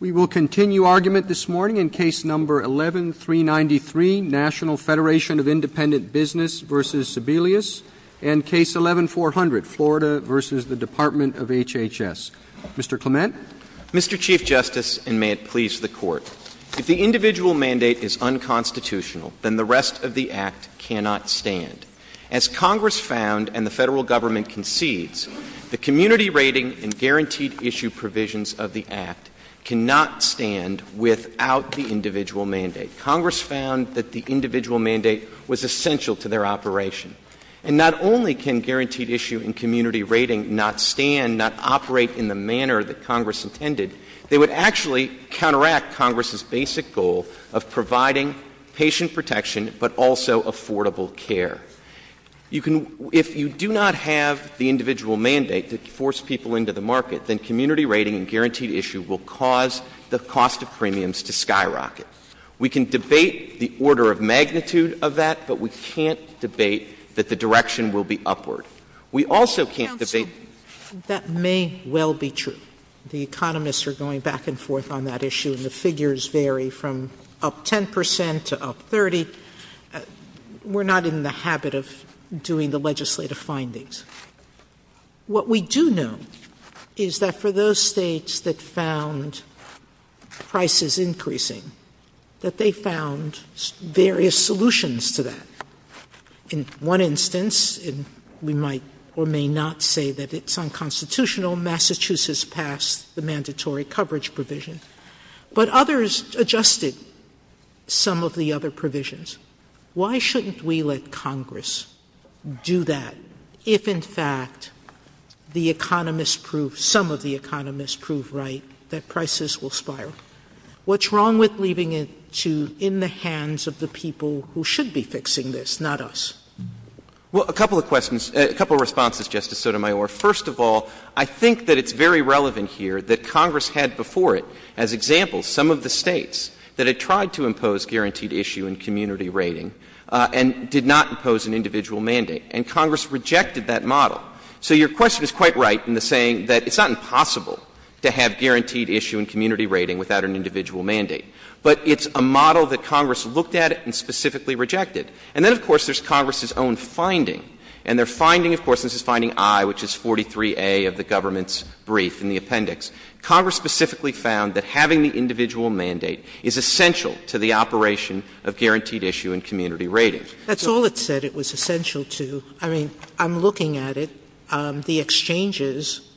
We will continue argument this morning in Case No. 11-393, National Federation of Independent Business v. Sebelius, and Case No. 11-400, Florida v. the Department of HHS. Mr. Clement? Mr. Chief Justice, and may it please the Court, if the individual mandate is unconstitutional, then the rest of the Act cannot stand. As Congress found and the federal government concedes, the Community Rating and Guaranteed Issue provisions of the Act cannot stand without the individual mandate. Congress found that the individual mandate was essential to their operation. And not only can Guaranteed Issue and Community Rating not stand, not operate in the manner that Congress intended, they would actually counteract Congress's basic goal of providing patient protection, but also affordable care. If you do not have the individual mandate to force people into the market, then Community Rating and Guaranteed Issue will cause the cost of premiums to skyrocket. We can debate the order of magnitude of that, but we can't debate that the direction will be upward. We also can't debate— That may well be true. The economists are going back and forth on that issue, and the habit of doing the legislative findings. What we do know is that for those states that found prices increasing, that they found various solutions to that. In one instance, we might or may not say that it's unconstitutional, Massachusetts passed the mandatory coverage provision, but others adjusted some of the other provisions. Why shouldn't we let Congress do that if, in fact, the economists prove—some of the economists prove right that prices will spiral? What's wrong with leaving it to in the hands of the people who should be fixing this, not us? Well, a couple of questions—a couple of responses, Justice Sotomayor. First of all, I think that it's very relevant here that Congress had before it, as examples, some of the states that had tried to impose Guaranteed Issue and Community Rating and did not impose an individual mandate, and Congress rejected that model. So your question is quite right in the saying that it's not impossible to have Guaranteed Issue and Community Rating without an individual mandate, but it's a model that Congress looked at and specifically rejected. And then, of course, there's Congress's own finding, and their finding, of course, this is finding I, which is 43A of the government's brief in the appendix. Congress specifically found that having the individual mandate is essential to the operation of Guaranteed Issue and Community Rating. That's all it said it was essential to. I mean, I'm looking at it. The exchanges,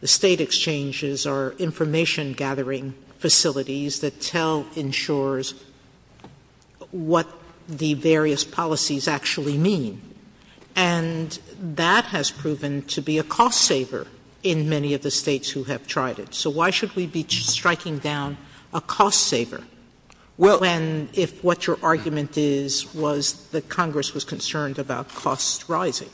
the state exchanges, are information-gathering facilities that tell insurers what the various policies actually mean. And that has proven to be a cost-saver in many of the states who have tried it. So why should we be striking down a cost-saver when if what your argument is was that Congress was concerned about costs rising?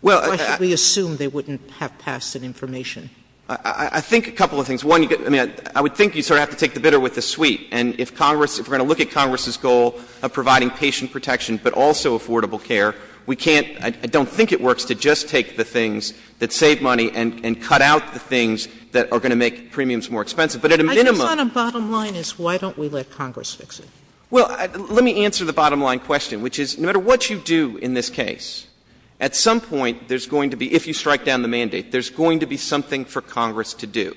Why should we assume they wouldn't have passed an information? I think a couple of things. One, I mean, I would think you'd sort of have to take the bitter with the sweet. And if Congress, if we're going to look at Congress's goal of providing patient protection but also affordable care, we can't, I don't think it works to just take the things that save money and cut out the things that are going to make premiums more expensive. But at a minimum... I think kind of bottom line is why don't we let Congress fix it? Well, let me answer the bottom line question, which is no matter what you do in this case, at some point there's going to be, if you strike down the mandate, there's going to be something for Congress to do.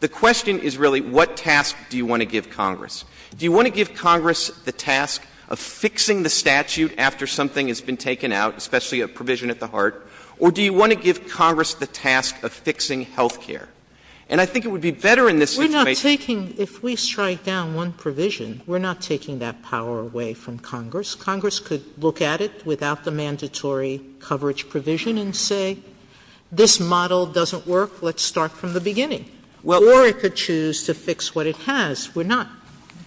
The question is really what task do you want to give Congress? Do you want to give Congress the task of fixing the statute after something has been taken out, especially a provision at the heart? Or do you want to give Congress the task of fixing health care? And I think it would be better in this situation... If we strike down one provision, we're not taking that power away from Congress. Congress could look at it without the mandatory coverage provision and say, this model doesn't work, let's start from the beginning. Or it could choose to fix what it has. We're not...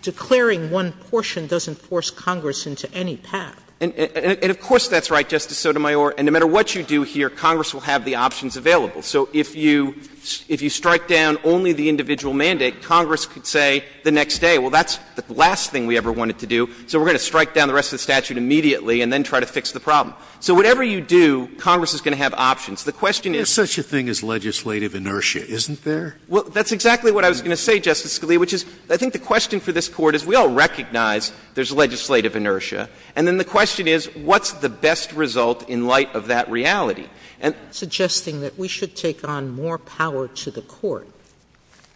Declaring one portion doesn't force Congress into any path. And of course that's right, Justice Sotomayor. And no matter what you do here, Congress will the options available. So if you strike down only the individual mandate, Congress could say the next day, well, that's the last thing we ever wanted to do. So we're going to strike down the rest of the statute immediately and then try to fix the problem. So whatever you do, Congress is going to have options. The question is... There's such a thing as legislative inertia, isn't there? Well, that's exactly what I was going to say, Justice Scalia, which is, I think the question for this Court is we all recognize there's legislative inertia. And then the question is, what's the best result in light of that reality? Suggesting that we should take on more power to the Court.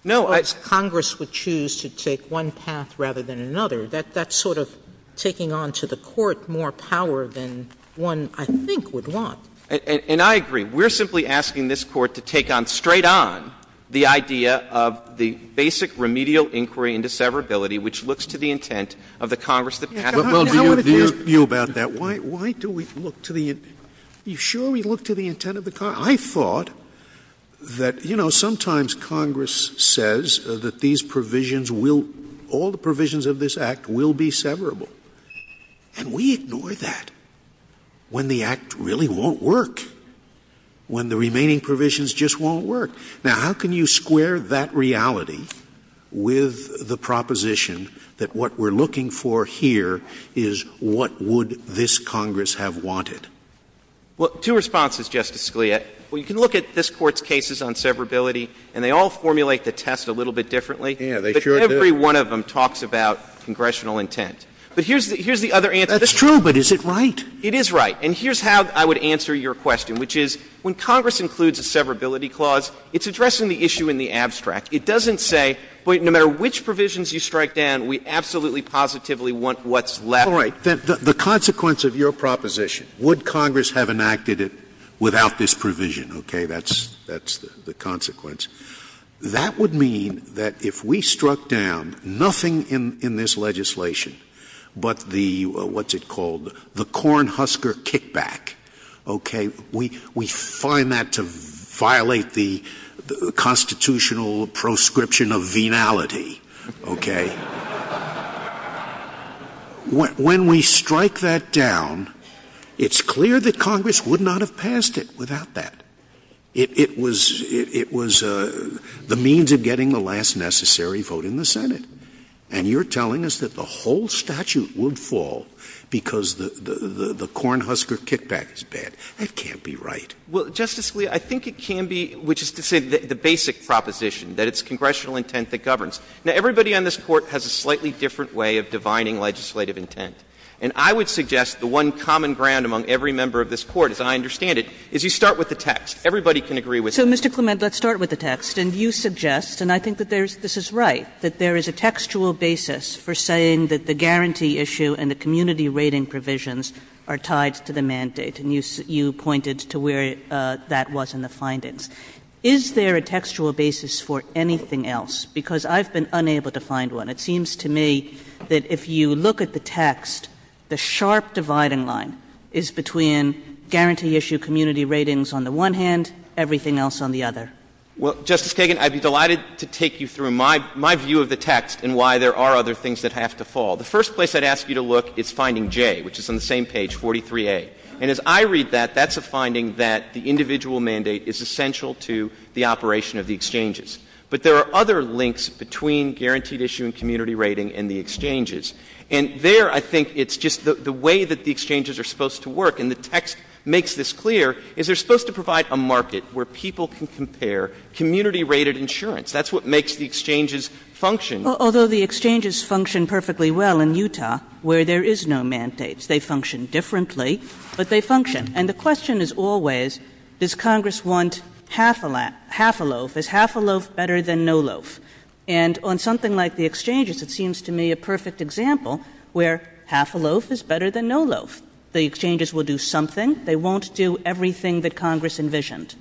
No, I... Congress would choose to take one path rather than another. That's sort of taking on to the Court more power than one, I think, would want. And I agree. We're simply asking this Court to take on, straight on, the idea of the basic remedial inquiry into severability, which looks to the intent of the Congress... You about that. Why do we look to the... You surely look to the intent of the Congress. I thought that, you know, sometimes Congress says that these provisions will... all the provisions of this Act will be severable. And we ignore that when the Act really won't work, when the remaining provisions just won't work. Now, how can you square that reality with the proposition that what we're looking for here is what would this Congress have wanted? Well, two responses, Justice Scalia. Well, you can look at this Court's cases on severability, and they all formulate the test a little bit differently. Yeah, they sure do. Every one of them talks about congressional intent. But here's the other answer. That's true, but is it right? It is right. And here's how I would answer your question, which is, when Congress includes a severability clause, it's addressing the issue in the abstract. It doesn't say, wait, no matter which provisions you strike down, we absolutely positively want what's left. All right. The consequence of your proposition, would Congress have enacted it without this provision? Okay, that's the consequence. That would mean that if we struck down nothing in this legislation but the, what's it called, the cornhusker kickback, okay, we find that to violate the constitutional proscription of venality, okay. When we strike that down, it's clear that Congress would not have passed it without that. It was the means of getting the last necessary vote in the Senate. And you're telling us that the whole statute would fall because the cornhusker kickback is bad. That can't be right. Well, Justice, I think it can be, which is to say the basic proposition, that it's congressional intent that governs. Now, everybody on this Court has a slightly different way of divining legislative intent. And I would suggest the one common ground among every member of this Court, as I understand it, is you start with the text. Everybody can agree with that. So, Mr. Clement, let's start with the text. And you suggest, and I think that this is right, that there is a textual basis for saying that the guarantee issue and the community rating provisions are tied to the mandate. And you pointed to where that was in the findings. Is there a textual basis for anything else? Because I've been unable to find one. It seems to me that if you look at the text, the sharp dividing line is between guarantee issue, community ratings on the one hand, everything else on the other. Well, Justice Kagan, I'd be delighted to take you through my view of the text and why there are other things that have to fall. The first place I'd ask you to look is finding J, which is on the same page, 43A. And as I read that, that's a finding that the individual mandate is essential to the operation of the exchanges. But there are other links between guaranteed issue and community rating and the exchanges. And there, I think, it's just the way that the exchanges are supposed to work. And the text makes this clear, is they're supposed to provide a market where people can compare community-rated insurance. That's what makes the exchanges function. Although the exchanges function perfectly well in Utah, where there is no mandates, they function differently, but they function. And the question is always, does Congress want half a loaf? Is half a loaf better than no loaf? And on something like the exchanges, it seems to me a perfect example where half a loaf is better than no loaf. The exchanges will do something. They won't do everything that Congress envisioned.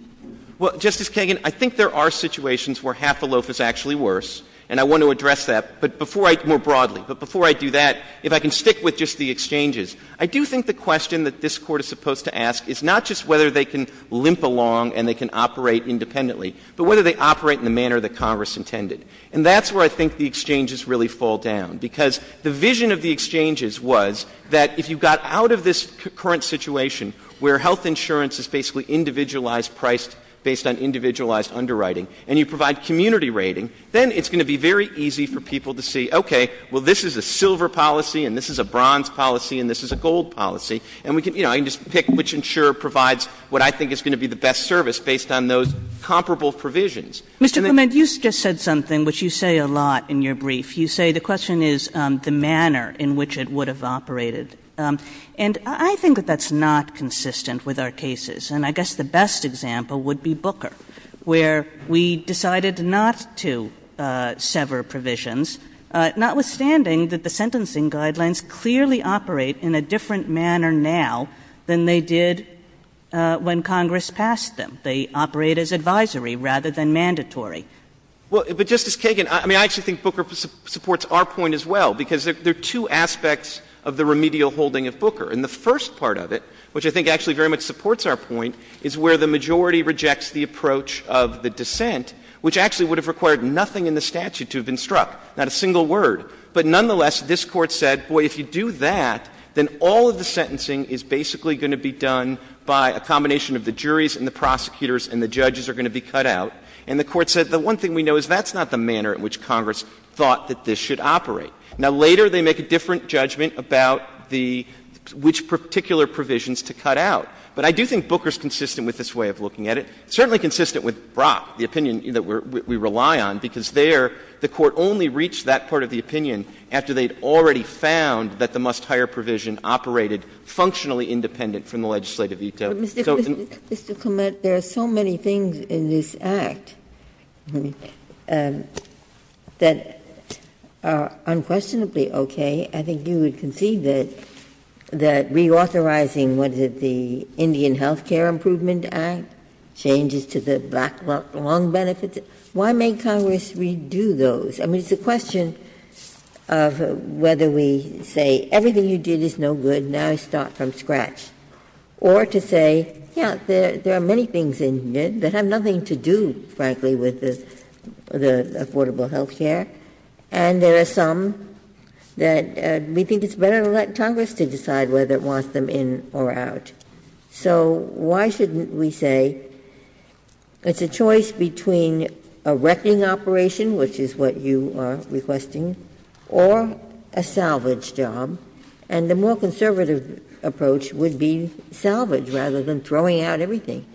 Well, Justice Kagan, I think there are situations where half a loaf is actually worse. And I want to address that, but before I, more broadly, but before I do that, if I can stick with just the exchanges. I do think the question that this Court is supposed to ask is not just whether they can limp along and they can operate independently, but whether they operate in the manner that Congress intended. And that's where I think the exchanges really fall down. Because the vision of the exchanges was that if you got out of this current situation where health insurance is individualized price based on individualized underwriting, and you provide community rating, then it's going to be very easy for people to see, okay, well, this is a silver policy, and this is a bronze policy, and this is a gold policy. And we can, you know, take which insurer provides what I think is going to be the best service based on those comparable provisions. Mr. Clement, you just said something which you say a lot in your brief. You say the question is the manner in which it would have operated. And I think that that's not consistent with our cases. And I guess the best example would be Booker, where we decided not to sever provisions, notwithstanding that the sentencing guidelines clearly operate in a different manner now than they did when Congress passed them. They operate as advisory rather than mandatory. Well, but Justice Kagan, I mean, I actually think Booker supports our point as well, because there are two aspects of the remedial holding of Booker. And the first part of it, which I think actually very much supports our point, is where the majority rejects the approach of the dissent, which actually would have required nothing in the statute to have been struck, not a single word. But nonetheless, this Court said, boy, if you do that, then all of the sentencing is basically going to be done by a combination of the juries and the prosecutors, and the judges are going to be cut out. And the Court said the one thing we know is that's not the manner in which Congress thought that this should operate. Now, later they make a different judgment about which particular provisions to cut out. But I do think Booker's consistent with this way of looking at it, certainly consistent with Brock, the opinion that we rely on, because there the Court only reached that part of the opinion after they'd already found that the must-hire provision operated functionally independent from the legislative veto. Mr. Clement, there are so many things in this Act that are unquestionably okay. I think you would concede that reauthorizing, what is it, the Indian Health Care Improvement Act, changes to the backlog benefits, why may Congress redo those? I mean, it's a question of whether we say everything you did is no good, now start from scratch, or to say, yeah, there are many things in it that have nothing to do, frankly, with the affordable health care, and there are some that we think it's better to let Congress to decide whether it wants them in or out. So why shouldn't we say it's a choice between a wrecking operation, which is what you are requesting, or a salvage job, and a more conservative approach would be salvage rather than throwing out everything?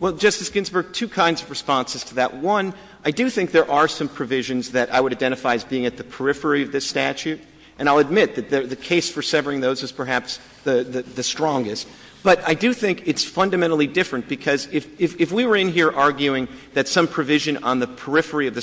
Well, Justice Ginsburg, two kinds of responses to that. One, I do think there are some provisions that I would identify as being at the periphery of this statute, and I'll admit that the case for severing those is perhaps the strongest. But I do think it's fundamentally different, because if we were in here arguing that some provision on the Affordable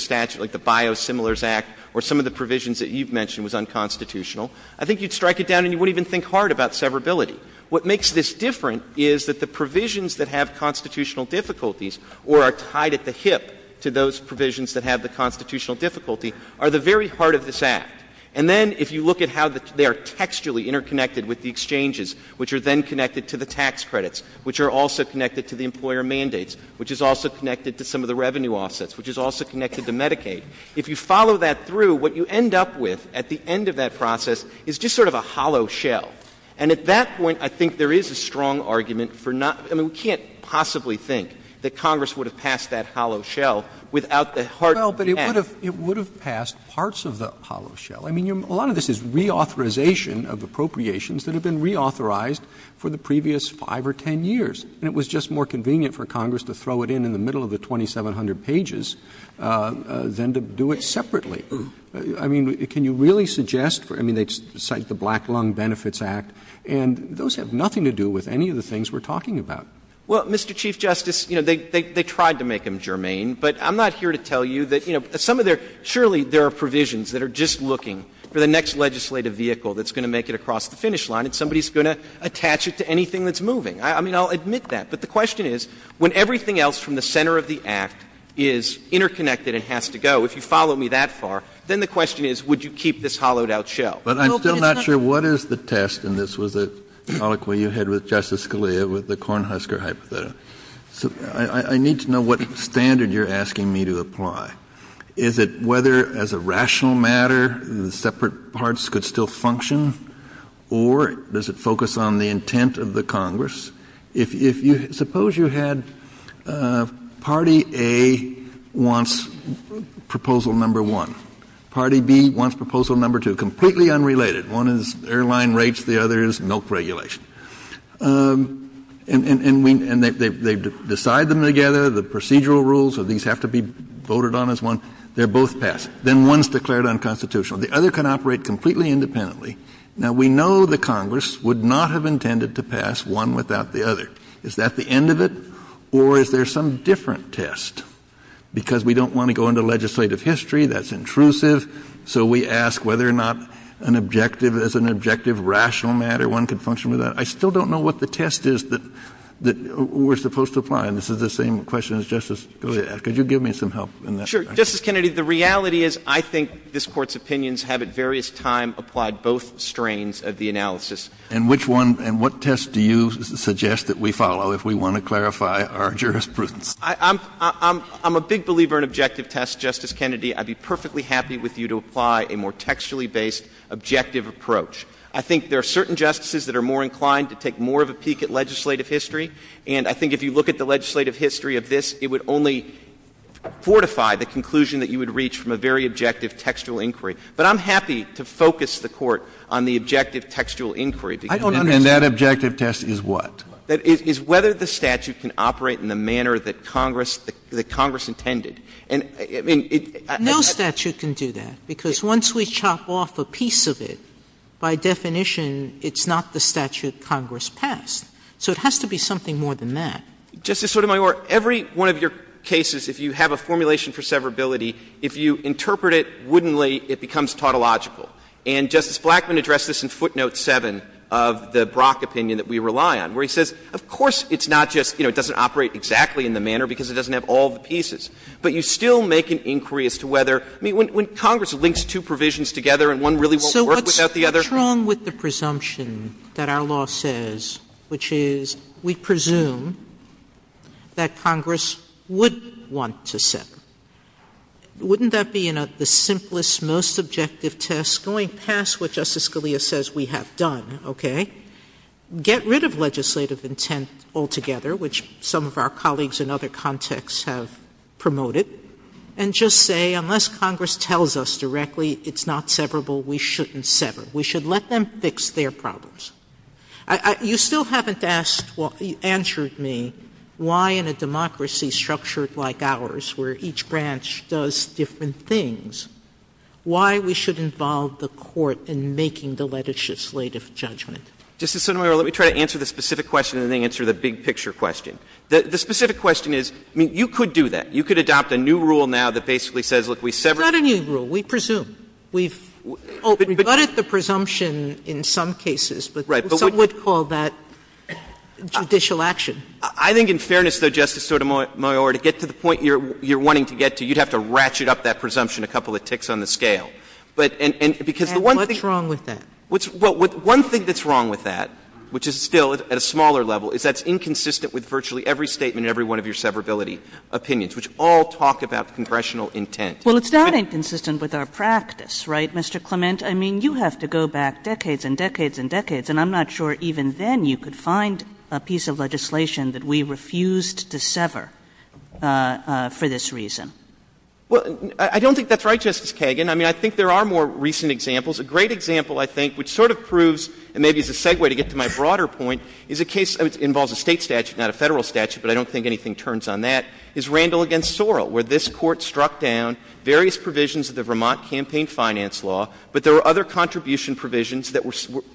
Care Act or some of the provisions that you've mentioned was unconstitutional, I think you'd strike it down and you wouldn't even think hard about severability. What makes this different is that the provisions that have constitutional difficulties or are tied at the hip to those provisions that have the constitutional difficulty are the very part of this act. And then if you look at how they are textually interconnected with the exchanges, which are then connected to the tax credits, which are also connected to the employer mandates, which is also connected to some of the revenue offsets, which is also connected to Medicaid, if you follow that through, what you end up with at the end of that process is just sort of a hollow shell. And at that point, I think there is a strong argument for not — I mean, we can't possibly think that Congress would have passed that hollow shell without the hard — Well, but it would have — it would have passed parts of the hollow shell. I mean, a lot of this is reauthorization of appropriations that have been reauthorized for the previous five or 10 years. And it was just more convenient for Congress to throw it in the middle of the 2,700 pages than to do it separately. I mean, can you really suggest — I mean, they cite the Black Lung Benefits Act, and those have nothing to do with any of the things we're talking about. Well, Mr. Chief Justice, you know, they tried to make them germane, but I'm not here to tell you that — you know, some of their — surely there are provisions that are just looking for the next legislative vehicle that's going to make it across the finish line, and somebody's going to attach it to anything that's moving. I mean, I'll admit that. But the question is, when everything else from the center of the Act is interconnected and has to go, if you follow me that far, then the question is, would you keep this hollowed-out shell? But I'm still not sure what is the test, and this was a topic where you hit with Justice Scalia with the Cornhusker hypothesis. I need to know what standard you're asking me to apply. Is it whether, as a rational matter, separate parts could still function? Or does it focus on the intent of the Congress? If you — suppose you had party A wants proposal number one. Party B wants proposal number two, completely unrelated. One is airline rates. The other is milk regulation. And they decide them together. The procedural rules of these have to be voted on as one. They're both passed. Then one's declared unconstitutional. The other can operate completely independently. Now, we know the Congress would not have intended to pass one without the other. Is that the end of it? Or is there some different test? Because we don't want to go into legislative history. That's intrusive. So we ask whether or not an objective — as an objective, rational matter, one could function with that. I still don't know what the test is that we're supposed to apply. And this is the same question as Justice Scalia. Could you give me some help in that? Sure. Justice Kennedy, the reality is, I think this Court's opinions have, at various times, applied both strains of the analysis. And which one — and what test do you suggest that we follow if we want to clarify our jurisprudence? I'm — I'm a big believer in objective tests, Justice Kennedy. I'd be perfectly happy with you to apply a more textually-based, objective approach. I think there are certain justices that are more inclined to take more of a peek at legislative history. And I think if you look at the legislative history of this, it would only fortify the conclusion that you would reach from a very objective, textual inquiry. But I'm happy to focus the Court on the objective, textual inquiry. I don't understand. That objective test is what? That is whether the statute can operate in the manner that Congress — that Congress intended. And, I mean, it — No statute can do that, because once we chop off a piece of it, by definition, it's not the statute Congress passed. So it has to be something more than that. Justice Sotomayor, every one of your cases, if you have a formulation for severability, if you interpret it woodenly, it becomes tautological. And Justice Blackmun addressed this in footnote 7 of the Brock opinion that we rely on, where he says, of course it's not just — you know, it doesn't operate exactly in the manner because it doesn't have all the pieces. But you still make an inquiry as to whether — I mean, when Congress links two provisions together and one really won't work without the other — So what's wrong with the presumption that our law says, which is, we presume that Congress would want to sever? Wouldn't that be the simplest, most objective test, going past what Justice Scalia says we have done, okay? Get rid of legislative intent altogether, which some of our colleagues in other contexts have promoted, and just say, unless Congress tells us directly it's not severable, we shouldn't sever. We should let them fix their problems. You still haven't asked or answered me why in a democracy structured like ours, where each branch does different things, why we should involve the Court in making the legislative judgment. Justice Sotomayor, let me try to answer the specific question and then answer the big-picture question. The specific question is — I mean, you could do that. You could adopt a new rule now that basically says, look, we sever — Well, we've got a new rule. We presume. We've got the presumption in some cases, but some would call that judicial action. I think in fairness, though, Justice Sotomayor, to get to the point you're wanting to get to, you'd have to ratchet up that presumption a couple of ticks on the scale. And what's wrong with that? One thing that's wrong with that, which is still at a smaller level, is that's inconsistent with virtually every statement in every one of your severability opinions, which all talk about congressional intent. Well, it's not inconsistent with our practice, right, Mr. Clement? I mean, you have to go back decades and decades and decades, and I'm not sure even then you could find a piece of legislation that we refused to sever for this reason. Well, I don't think that's right, Justice Kagan. I mean, I think there are more recent examples. A great example, I think, which sort of proves — and maybe as a segue to get to my broader point — is a case that involves a State statute, not a Federal statute, but I don't think anything turns on that, is Randall v. Sorrell, where this Court struck down various provisions of the Vermont campaign finance law, but there were other contribution provisions that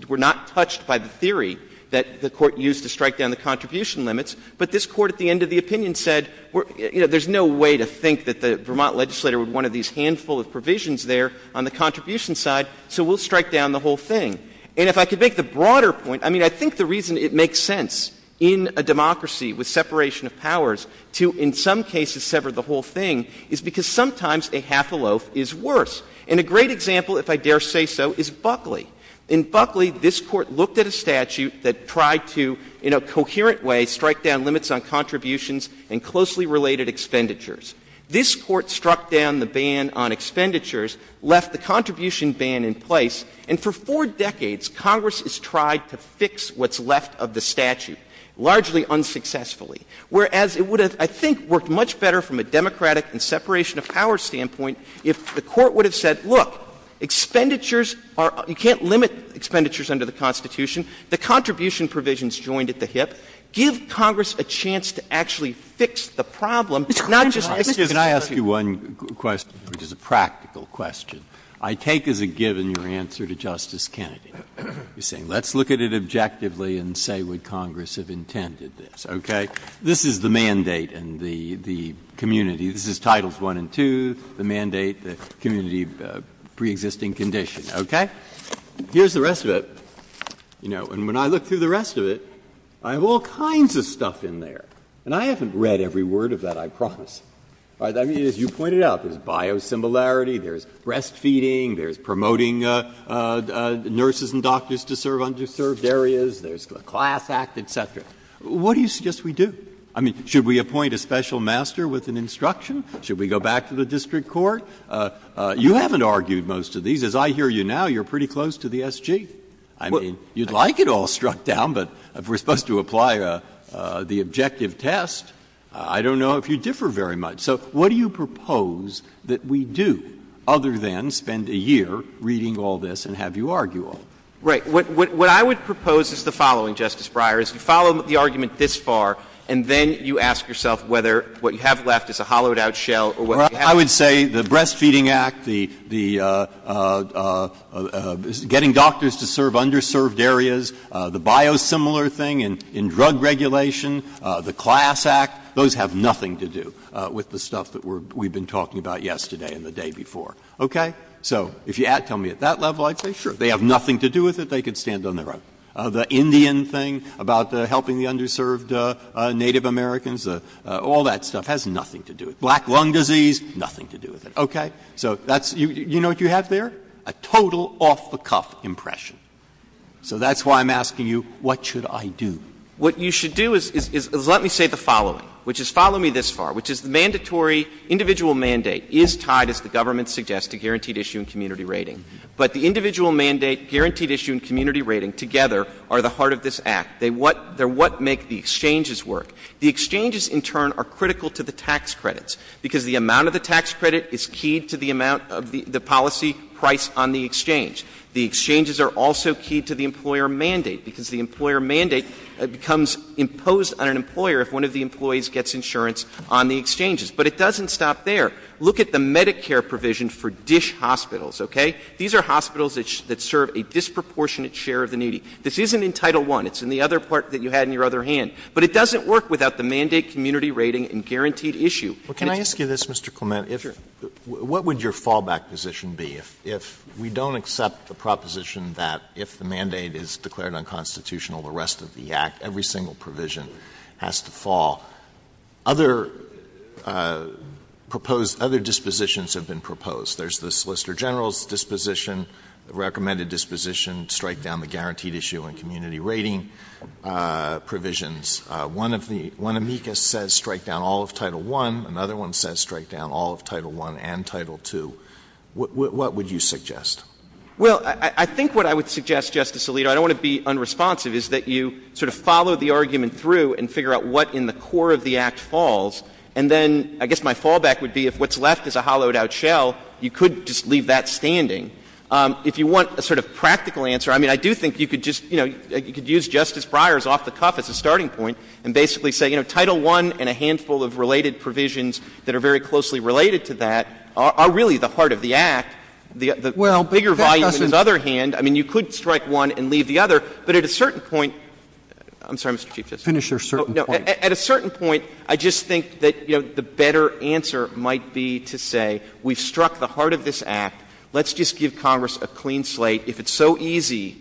were not touched by the theory that the Court used to strike down the contribution limits. But this Court at the end of the opinion said, you know, there's no way to think that the Vermont legislator would want one of these handful of provisions there on the contribution side, so we'll strike down the whole thing. And if I could make the broader point, I mean, I think the reason it makes sense in a democracy with separation of powers to in some cases sever the whole thing is because sometimes a half a loaf is worse. And a great example, if I dare say so, is Buckley. In Buckley, this Court looked at a statute that tried to, in a coherent way, strike down limits on contributions and closely related expenditures. This Court struck down the ban on expenditures, left the contribution ban in place, and for four decades, Congress has tried to fix what's unsuccessfully. Whereas it would have, I think, worked much better from a democratic and separation of powers standpoint if the Court would have said, look, expenditures are — you can't limit expenditures under the Constitution. The contribution provisions joined at the hip. Give Congress a chance to actually fix the problem, not just — JUSTICE BREYER. Mr. Kagan, can I ask you one question, which is a practical question? I take as a given your answer to Justice Kennedy. You're saying, let's look at it objectively and say would Congress have intended this, okay? This is the mandate and the community. This is Titles I and II, the mandate, the community of preexisting condition, okay? Here's the rest of it, you know, and when I look through the rest of it, I have all kinds of stuff in there. And I haven't read every word of that, I promise. I mean, as you pointed out, there's biosimilarity, there's breastfeeding, there's promoting nurses and doctors to serve areas, there's the CLASS Act, et cetera. What do you suggest we do? I mean, should we appoint a special master with an instruction? Should we go back to the district court? You haven't argued most of these. As I hear you now, you're pretty close to the SG. I mean, you'd like it all struck down, but if we're supposed to apply the objective test, I don't know if you differ very much. So what do you propose that we do, other than spend a year reading all this and have you argue all? Right. What I would propose is the following, Justice Breyer, is you follow the argument this far, and then you ask yourself whether what you have left is a hollowed-out shell or whether you have... I would say the Breastfeeding Act, the getting doctors to serve underserved areas, the biosimilar thing in drug regulation, the CLASS Act, those have nothing to do with the stuff that we've been talking about yesterday and the day before, okay? So if you tell me at that level, I'd say, sure, they have nothing to do with it. They could stand on their own. The Indian thing about helping the underserved Native Americans, all that stuff has nothing to do with it. Black lung disease, nothing to do with it, okay? So that's... You know what you have there? A total off-the-cuff impression. So that's why I'm asking you, what should I do? What you should do is let me say the following, which is follow me this far, which is the mandatory individual mandate is tied, as the government suggests, to guaranteed issue and community rating. But the individual mandate, guaranteed issue, and community rating together are the heart of this Act. They're what make the exchanges work. The exchanges, in turn, are critical to the tax credits because the amount of the tax credit is key to the amount of the policy price on the exchange. The exchanges are also key to the employer mandate because the employer mandate becomes imposed on an employer if one of the employees gets insurance on the exchanges. But it doesn't stop there. Look at the Medicare provision for DISH hospitals, okay? These are hospitals that serve a disproportionate share of the needy. This isn't in Title I. It's in the other part that you had in your other hand. But it doesn't work without the mandate, community rating, and guaranteed issue. Can I ask you this, Mr. Clement? What would your fallback position be if we don't accept the proposition that if the mandate is declared unconstitutional, the rest of the Act, every single provision has to fall? Other dispositions have been proposed. There's the Solicitor General's disposition, recommended disposition, strike down the guaranteed issue and community rating provisions. One amicus says strike down all of Title I. Another one says strike down all of Title I and Title II. What would you suggest? Well, I think what I would suggest, Justice Alito, I don't want to be unresponsive, is that you sort of follow the argument through and figure out what in the core of the Act falls. And then I guess my fallback would be if what's left is a hollowed-out shell, you could just leave that standing. If you want a sort of practical answer, I mean, I do think you could just, you know, you could use Justice Breyer's off the cuff as a starting point and basically say, you know, Title I and a handful of related provisions that are very closely related to that are really the heart of the Act. The bigger volume, on the other hand, I mean, you could strike one and leave the other, but at a certain point, I'm sorry, Mr. Chief Justice. Finish your certain point. At a certain point, I just think that, you know, the better answer might be to say, we've struck the heart of this Act. Let's just give Congress a clean slate. If it's so easy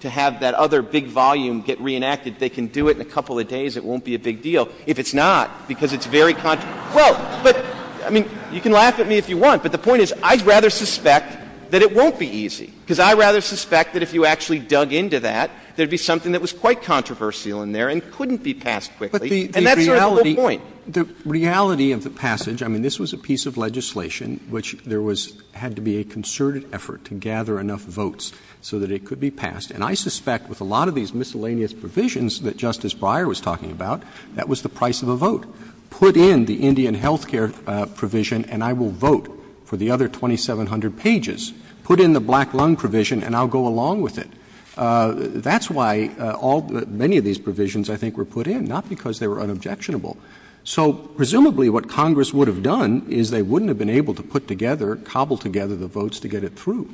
to have that other big volume get reenacted, they can do it in a couple of days. It won't be a big deal. If it's not, because it's very — well, but, I mean, you can laugh at me if you want, but the point is, I'd rather suspect that it won't be easy, because I'd rather suspect that if you actually dug into that, there'd be something that was quite controversial in there and couldn't be passed quickly, and that's your whole point. The reality of the passage — I mean, this was a piece of legislation which there was — had to be a concerted effort to gather enough votes so that it could be passed, and I suspect with a that Justice Breyer was talking about, that was the price of a vote. Put in the Indian health care provision and I will vote for the other 2,700 pages. Put in the black lung provision and I'll go along with it. That's why all — many of these provisions, I think, were put in, not because they were unobjectionable. So presumably what Congress would have done is they wouldn't have been able to put together — cobble together the votes to get it through.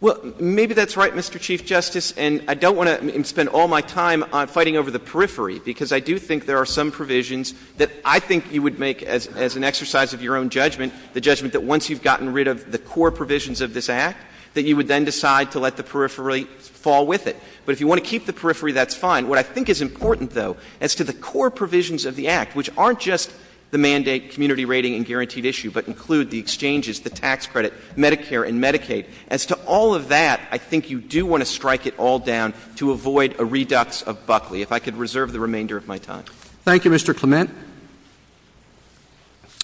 Well, maybe that's right, Mr. Chief Justice, and I don't want to spend all my time on fighting over the periphery, because I do think there are some provisions that I think you would make as an exercise of your own judgment, the judgment that once you've gotten rid of the core provisions of this Act, that you would then decide to let the periphery fall with it. But if you want to keep the periphery, that's fine. What I think is important, though, as to the core provisions of the Act, which aren't just the mandate, community rating, and guaranteed issue, but include the exchanges, the tax credit, Medicare and Medicaid, as to all of that, I think you do want to strike it all down to avoid a redux of Buckley, if I could reserve the remainder of my time. Thank you, Mr. Clement.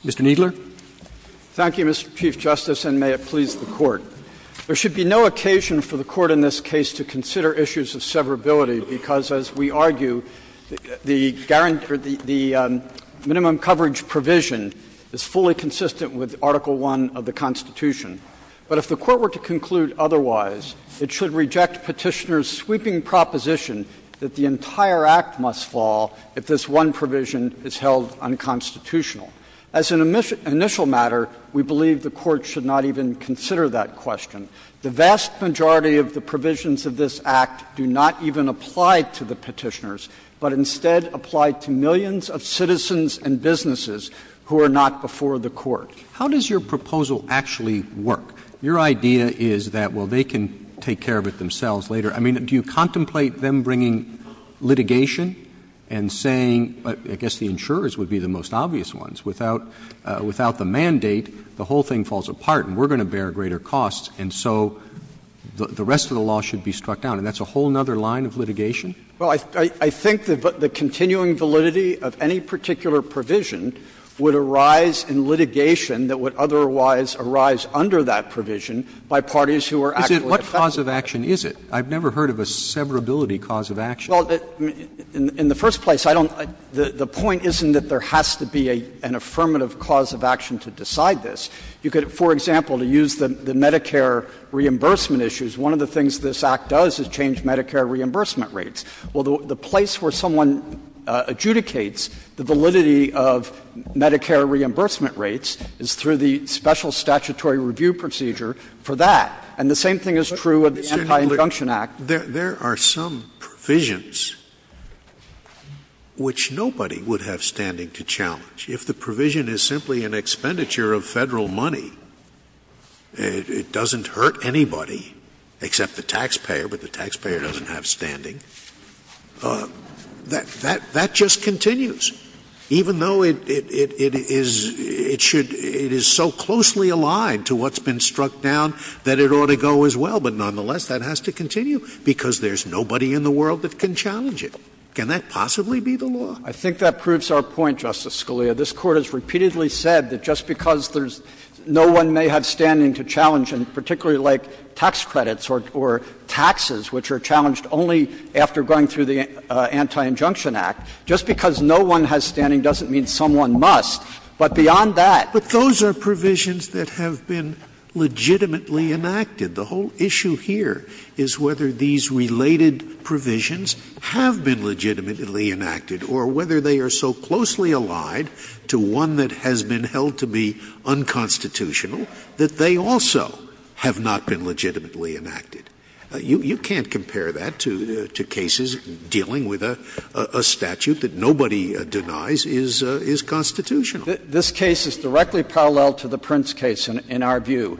Mr. Kneedler? Thank you, Mr. Chief Justice, and may it please the Court. There should be no occasion for the Court in this case to consider issues of severability, because, as we argue, the minimum coverage provision is fully consistent with Article I of the Constitution. But if the Court were to conclude otherwise, it should reject Petitioner's sweeping proposition that the entire Act must fall if this one provision is held unconstitutional. As an initial matter, we believe the Court should not even consider that question. The vast majority of the provisions of this Act do not even apply to the Petitioners, but instead apply to millions of citizens and businesses who are not before the Court. How does your proposal actually work? Your idea is that, well, they can take care of it themselves later. I mean, do you contemplate them bringing litigation and saying, I guess the insurers would be the most obvious ones. Without the mandate, the whole thing falls apart, and we're going to bear greater costs, and so the rest of the law should be struck down, and that's a whole other line of litigation? Well, I think the continuing validity of any particular provision would arise in litigation that would otherwise arise under that provision by parties who are actually — What cause of action is it? I've never heard of a severability cause of action. Well, in the first place, I don't — the point isn't that there has to be an affirmative cause of action to decide this. You could, for example, to use the Medicare reimbursement One of the things this Act does is change Medicare reimbursement rates. Well, the place where someone adjudicates the validity of Medicare reimbursement rates is through the special statutory review procedure for that. And the same thing is true of the Anti-Injunction Act. There are some provisions which nobody would have standing to challenge. If the provision is simply an expenditure of federal money, it doesn't hurt anybody except the taxpayer, but the taxpayer doesn't have standing. That just continues, even though it is so closely aligned to what's been struck down that it ought to go as well. But nonetheless, that has to continue because there's nobody in the world that can challenge it. Can that possibly be the law? I think that proves our point, Justice Scalia. This Court has repeatedly said that just because no one may have standing to challenge, and particularly like tax credits or taxes, which are challenged only after going through the Anti-Injunction Act, just because no one has standing doesn't mean someone must. But beyond that — But those are provisions that have been legitimately enacted. The whole issue here is whether these related provisions have been legitimately enacted or whether they are so closely aligned to one that has been held to be unconstitutional that they also have not been legitimately enacted. You can't compare that to cases dealing with a statute that nobody denies is constitutional. This case is directly parallel to the Prince case in our view.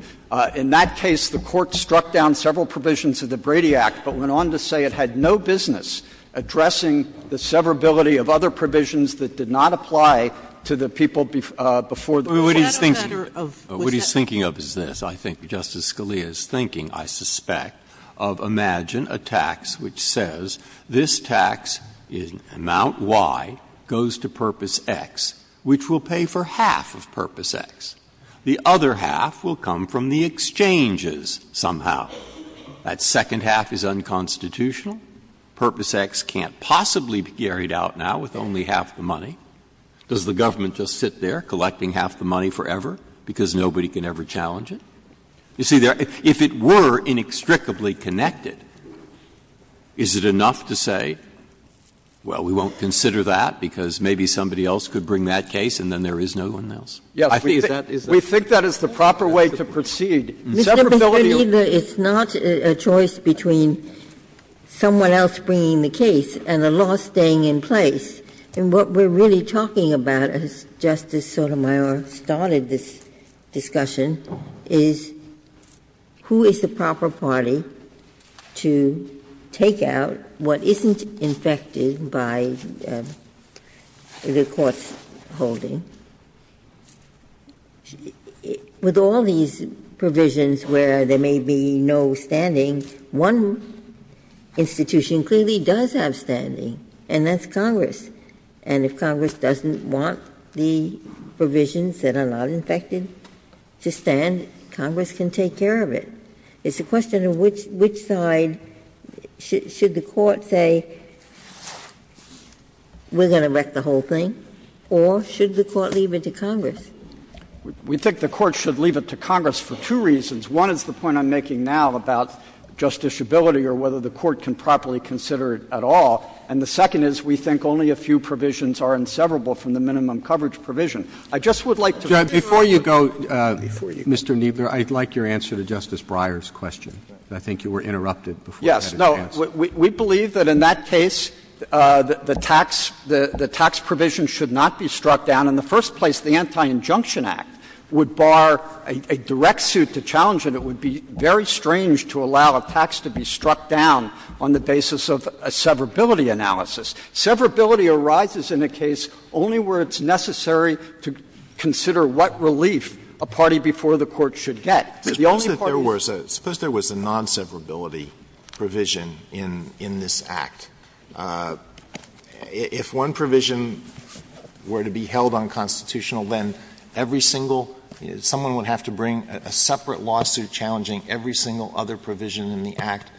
In that case, the Court struck down several provisions of the Brady Act but went on to say it had no business addressing the severability of other provisions that did not apply to the people before the court. But what he's thinking of is this. I think Justice Scalia is thinking, I suspect, of — imagine a tax which says this tax in amount Y goes to purpose X, which will pay for half of the money. Does the government just sit there collecting half the money forever because nobody can ever challenge it? You see, if it were inextricably connected, is it enough to say, well, we won't consider that because maybe somebody else could bring that case and then there is no one else? I think that is — Mr. Bentelega, it's not a choice between someone else bringing the case and the law staying in place. And what we're really talking about, as Justice Sotomayor started this discussion, is who is the proper party to take out what isn't infected by the Court's holding. With all these provisions where there may be no standings, one institution clearly does have standing, and that's Congress. And if Congress doesn't want the provisions that are not infected to stand, Congress can take care of it. It's a question of which side — should the Court say, okay, we're going to wreck the whole thing, or should the Court leave it to Congress? We think the Court should leave it to Congress for two reasons. One is the point I'm making now about justiciability or whether the Court can properly consider it at all. And the second is we think only a few provisions are inseparable from the minimum coverage provision. I just would like to — Before you go, Mr. Kneedler, I'd like your answer to Justice Breyer's question. I think you were interrupted before I had a chance. No. We believe that in that case, the tax provision should not be struck down. In the first place, the Anti-Injunction Act would bar a direct suit to challenge it. It would be very strange to allow a tax to be struck down on the basis of a severability analysis. Severability arises in a case only where it's necessary to consider what relief a party before the Court should get. The only part of the — Suppose there was a non-severability provision in this Act. If one provision were to be held unconstitutional, then every single — someone would have to bring a separate lawsuit challenging every single other provision in the Act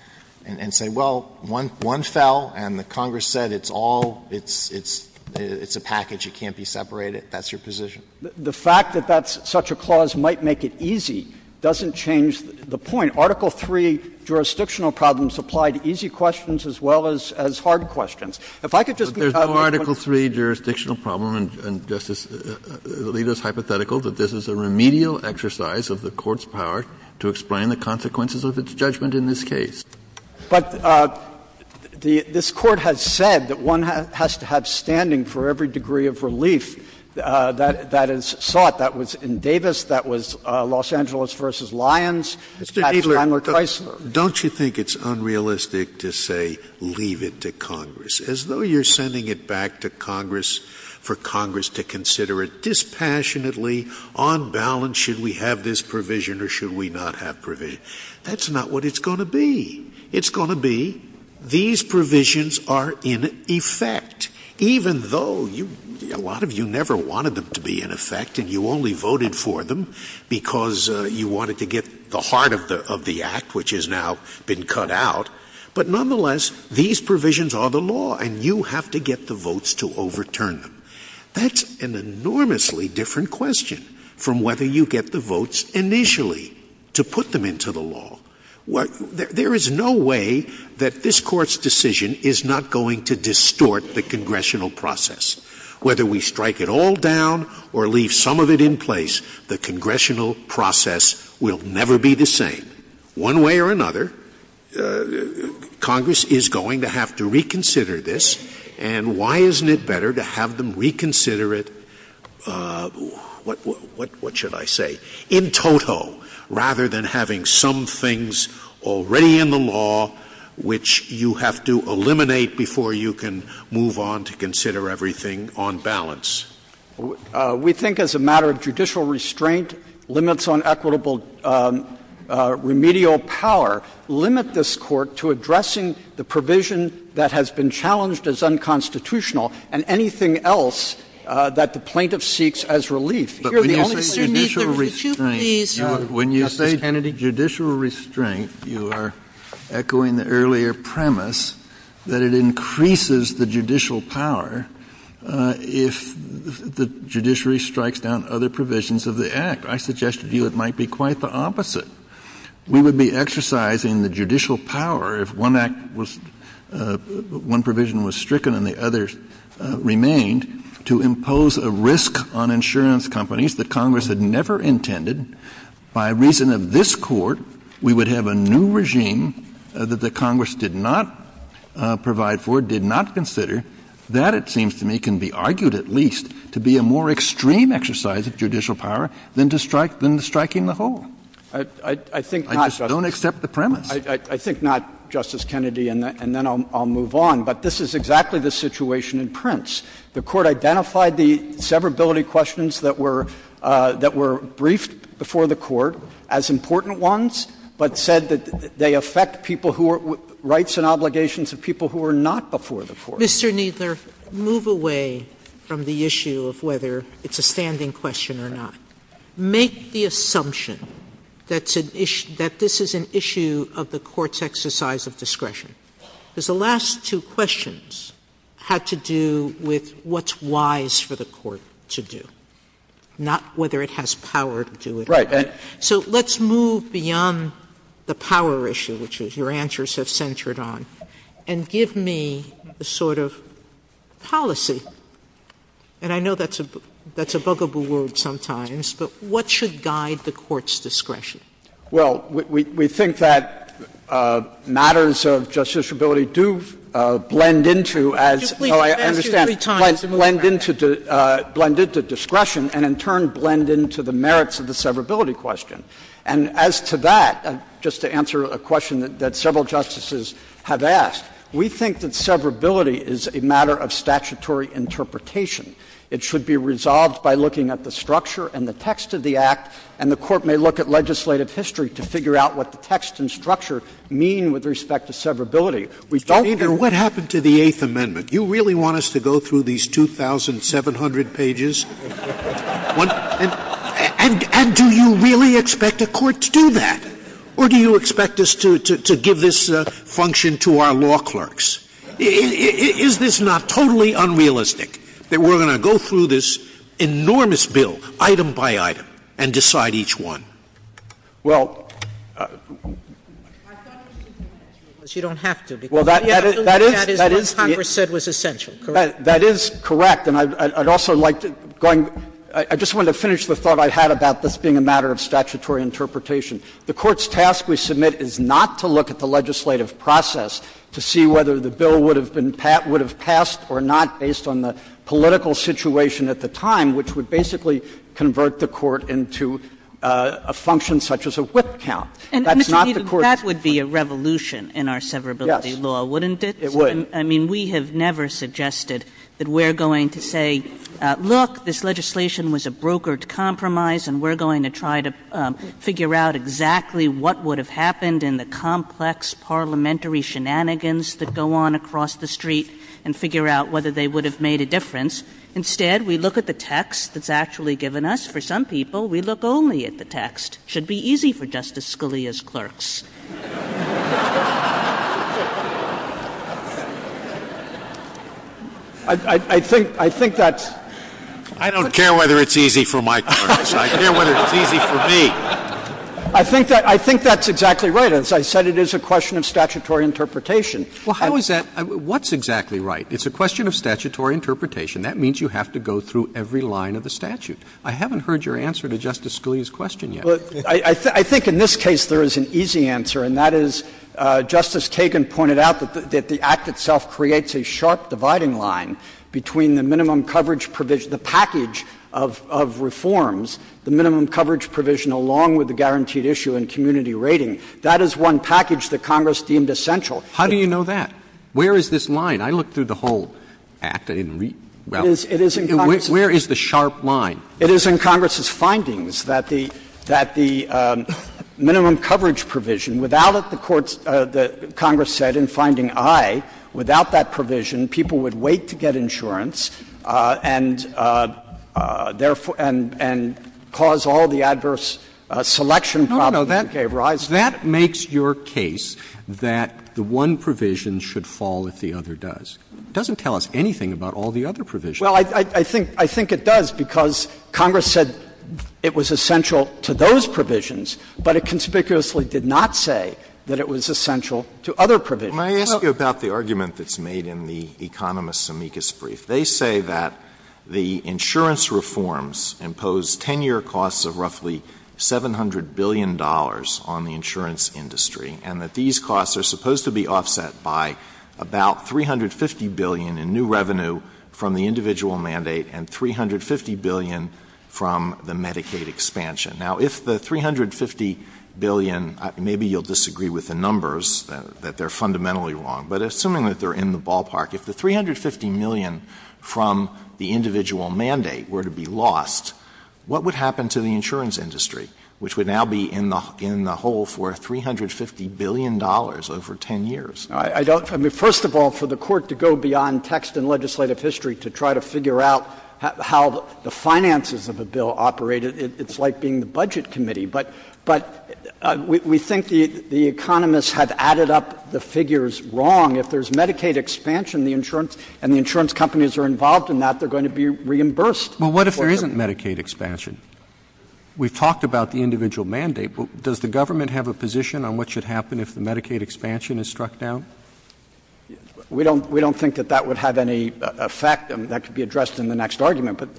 and say, well, one fell, and the Congress said it's all a package. It can't be separated. That's your position? The fact that that's — such a clause might make it easy doesn't change the point. Article 3 jurisdictional problems apply to easy questions as well as hard questions. If I could just — But there's no Article 3 jurisdictional problem, and Justice — the leader's hypothetical that this is a remedial exercise of the Court's power to explain the consequences of its judgment in this case. But this Court has said that one has to have standing for every degree of relief that is sought. That was in Davis. That was Los Angeles v. Lyons. It's Pat Chandler Chrysler. Don't you think it's unrealistic to say, leave it to Congress, as though you're sending it back to Congress for Congress to consider it dispassionately, on balance, should we have this provision or should we not have provision? That's not what it's going to be. It's going to be, these provisions are in effect, even though a lot of you never wanted them to be in effect, and you only voted for them because you wanted to get the heart of the Act, which has now been cut out. But nonetheless, these provisions are the law, and you have to get the votes to overturn them. That's an enormously different question from whether you get the votes initially to put them into the law. There is no way that this Court's decision is not going to distort the Congressional process. Whether we strike it all down or leave some of it in place, the Congressional process will never be the same. One way or another, Congress is going to have to reconsider this, and why isn't it better to have them reconsider it, what should I say, in total, rather than having some things already in the law, which you have to eliminate before you can move on to consider everything on balance? We think as a matter of judicial restraint, limits on equitable remedial power, limit this Court to addressing the provision that has been challenged as unconstitutional and anything else that the relief. When you say judicial restraint, you are echoing the earlier premise that it increases the judicial power if the judiciary strikes down other provisions of the Act. I suggested to you it might be quite the opposite. We would be exercising the judicial power if one provision was stricken and the other remained to impose a risk on insurance companies that Congress had never intended. By reason of this Court, we would have a new regime that the Congress did not provide for, did not consider. That, it seems to me, can be argued at least to be a more extreme exercise of judicial power than striking the whole. I just don't accept the premise. I think not, Justice Kennedy, and then I'll move on. But this is exactly the situation in Prince. The Court identified the severability questions that were briefed before the Court as important ones, but said that they affect people who are — rights and obligations of people who were not before the Court. Mr. Kneedler, move away from the issue of whether it's a standing question or not. Make the assumption that this is an issue of the Court's exercise of discretion, because the last two questions had to do with what's wise for the Court to do, not whether it has power to do it or not. So let's move beyond the power issue, which your answers have centered on, and give me the sort of policy — and I know that's a what should guide the Court's discretion. Well, we think that matters of justiciability do blend into as — I understand — blend into discretion and, in turn, blend into the merits of the severability question. And as to that, just to answer a question that several justices have asked, we think that severability is a matter of statutory interpretation. It should be resolved by looking at the structure and the text of the Act, and the Court may look at legislative history to figure out what the text and structure mean with respect to severability. We don't — Mr. Kneedler, what happened to the Eighth Amendment? Do you really want us to go through these 2,700 pages? And do you really expect a Court to do that? Or do you expect us to give this function to our clerks? Is this not totally unrealistic that we're going to go through this enormous bill, item by item, and decide each one? Well — But you don't have to, because you have to look at what Congress said was essential, correct? That is correct. And I'd also like to — I just wanted to finish the thought I had about this being a matter of statutory interpretation. The Court's task, we submit, is not to look at the legislative process to see whether the bill would have been — would have passed or not based on the political situation at the time, which would basically convert the Court into a function such as a whip count. That's not the Court's — And, Mr. Kneedler, that would be a revolution in our severability law, wouldn't it? Yes, it would. I mean, we have never suggested that we're going to say, look, this legislation was a brokered compromise, and we're going to try to in the complex parliamentary shenanigans that go on across the street and figure out whether they would have made a difference. Instead, we look at the text that's actually given us. For some people, we look only at the text. It should be easy for Justice Scalia's clerks. I think that's — I don't care whether it's easy for my clerks. I care whether it's easy for me. I think that — I think that's exactly right. As I said, it is a question of statutory interpretation. Well, how is that — what's exactly right? It's a question of statutory interpretation. That means you have to go through every line of the statute. I haven't heard your answer to Justice Scalia's question yet. But I think in this case, there is an easy answer, and that is, Justice Kagan pointed out that the Act itself creates a sharp dividing line between the guaranteed issue and community rating. That is one package that Congress deemed essential. How do you know that? Where is this line? I looked through the whole Act. Where is the sharp line? It is in Congress's findings that the minimum coverage provision — without it, the courts, the Congress said, in finding I, without that provision, people would wait to get insurance and therefore — and cause all the adverse selection problems that they've raised. That makes your case that the one provision should fall if the other does. It doesn't tell us anything about all the other provisions. Well, I think — I think it does, because Congress said it was essential to those provisions, but it conspicuously did not say that it was essential to other provisions. May I ask you about the argument that's made in the economists' amicus brief? They say that the insurance reforms impose 10-year costs of roughly $700 billion on the insurance industry, and that these costs are supposed to be offset by about $350 billion in new revenue from the individual mandate and $350 billion from the Medicaid expansion. Now, if the $350 billion — maybe you'll disagree with the numbers, that they're fundamentally wrong, but assuming that they're in the ballpark, if the $350 million from the individual mandate were to be lost, what would happen to the insurance industry, which would now be in the hole for $350 billion over 10 years? I don't — I mean, first of all, for the Court to go beyond text and legislative history to try to figure out how the finances of the bill operate, it's like being the Budget Committee. But we think the economists have added up the figures wrong. If there's Medicaid expansion, and the insurance companies are involved in that, they're going to be reimbursed. But what if there isn't Medicaid expansion? We've talked about the individual mandate. Does the government have a position on what should happen if the Medicaid expansion is struck down? We don't — we don't think that that would have any effect. I mean, that could be addressed in the next argument, but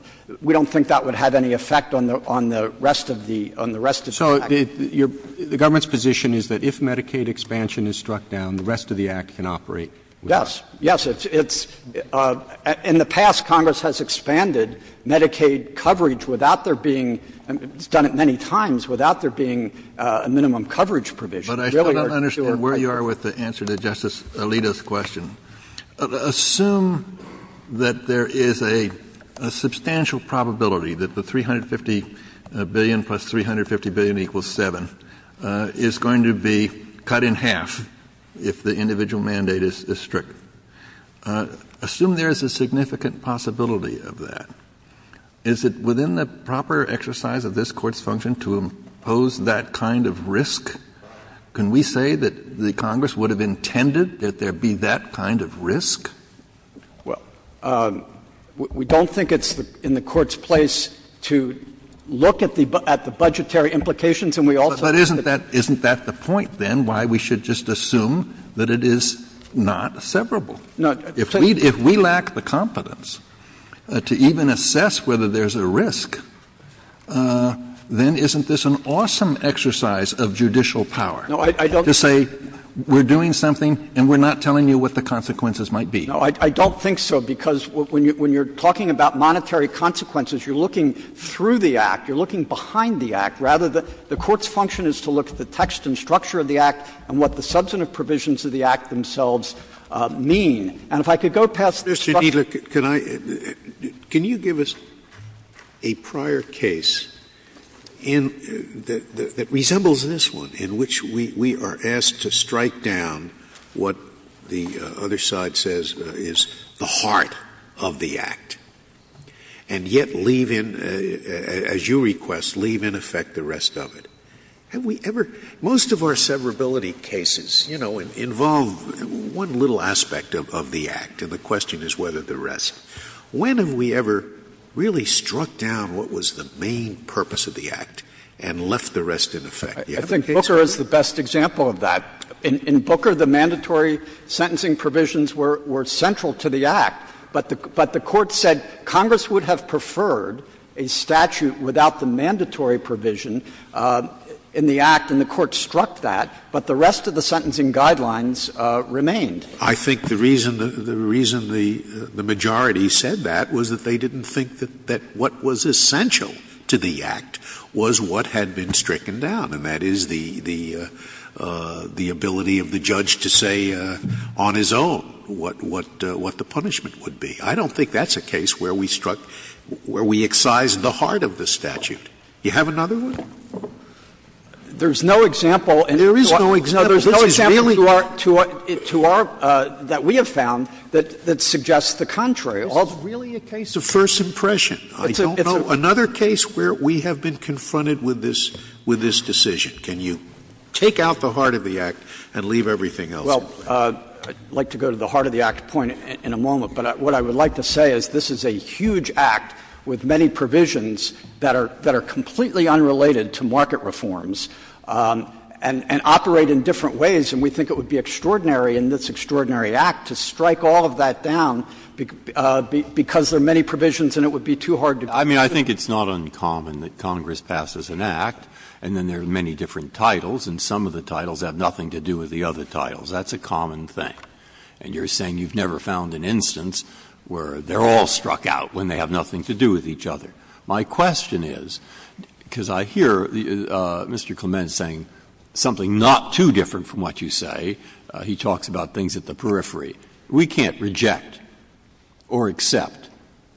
we don't think that would have any effect on the rest of the — on the rest of the act. So the government's position is that if Medicaid expansion is struck down, the rest of the act can operate? Yes. Yes, it's — in the past, Congress has expanded Medicaid coverage without there being — it's done it many times — without there being a minimum coverage provision. But I still don't understand where you are with the answer to Justice Alito's question. Assume that there is a substantial probability that the $350 billion plus $350 billion equals seven is going to be cut in half if the individual mandate is struck. Assume there is a significant possibility of that. Is it within the proper that there be that kind of risk? Well, we don't think it's in the court's place to look at the budgetary implications, and we also — But isn't that — isn't that the point, then, why we should just assume that it is not severable? If we lack the competence to even assess whether there's a risk, then isn't this an awesome exercise of judicial power — No, I don't —— to say, we're doing something and we're not telling you what the consequences might be? No, I don't think so, because when you're talking about monetary consequences, you're looking through the act. You're looking behind the act. Rather, the court's function is to look at the text and structure of the act and what the substantive provisions of the act themselves mean. And if I could go past this — Can I — can you give us a prior case in — that resembles this one, in which we are asked to strike down what the other side says is the heart of the act, and yet leave in — as you request, leave in effect the rest of it? Have we ever — most of our severability cases, you know, involve one little aspect of the act, and the question is whether the rest. When have we ever really struck down what was the main purpose of the act and left the rest in effect? I think Booker is the best example of that. In Booker, the mandatory sentencing provisions were central to the act, but the court said Congress would have preferred a statute without the remained. I think the reason the majority said that was that they didn't think that what was essential to the act was what had been stricken down, and that is the ability of the judge to say on his own what the punishment would be. I don't think that's a case where we struck — where we excise the heart of the statute. Do you have another one? There's no example — There is no example. There's no example to our — that we have found that suggests the contrary. Well, it's really a case of first impression. I don't know. Another case where we have been confronted with this decision. Can you take out the heart of the act and leave everything else? Well, I'd like to go to the heart of the act point in a moment, but what I would like to say is this is a huge act with many provisions that are completely unrelated to market reforms and operate in different ways, and we think it would be extraordinary in this extraordinary act to strike all of that down because there are many provisions, and it would be too hard to — I mean, I think it's not uncommon that Congress passes an act, and then there are many different titles, and some of the titles have nothing to do with the other titles. That's a common thing, and you're saying you've never found an instance where they're all struck out when they have nothing to do with each other. My question is, because I hear Mr. Clement saying something not too different from what you say. He talks about things at the periphery. We can't reject or accept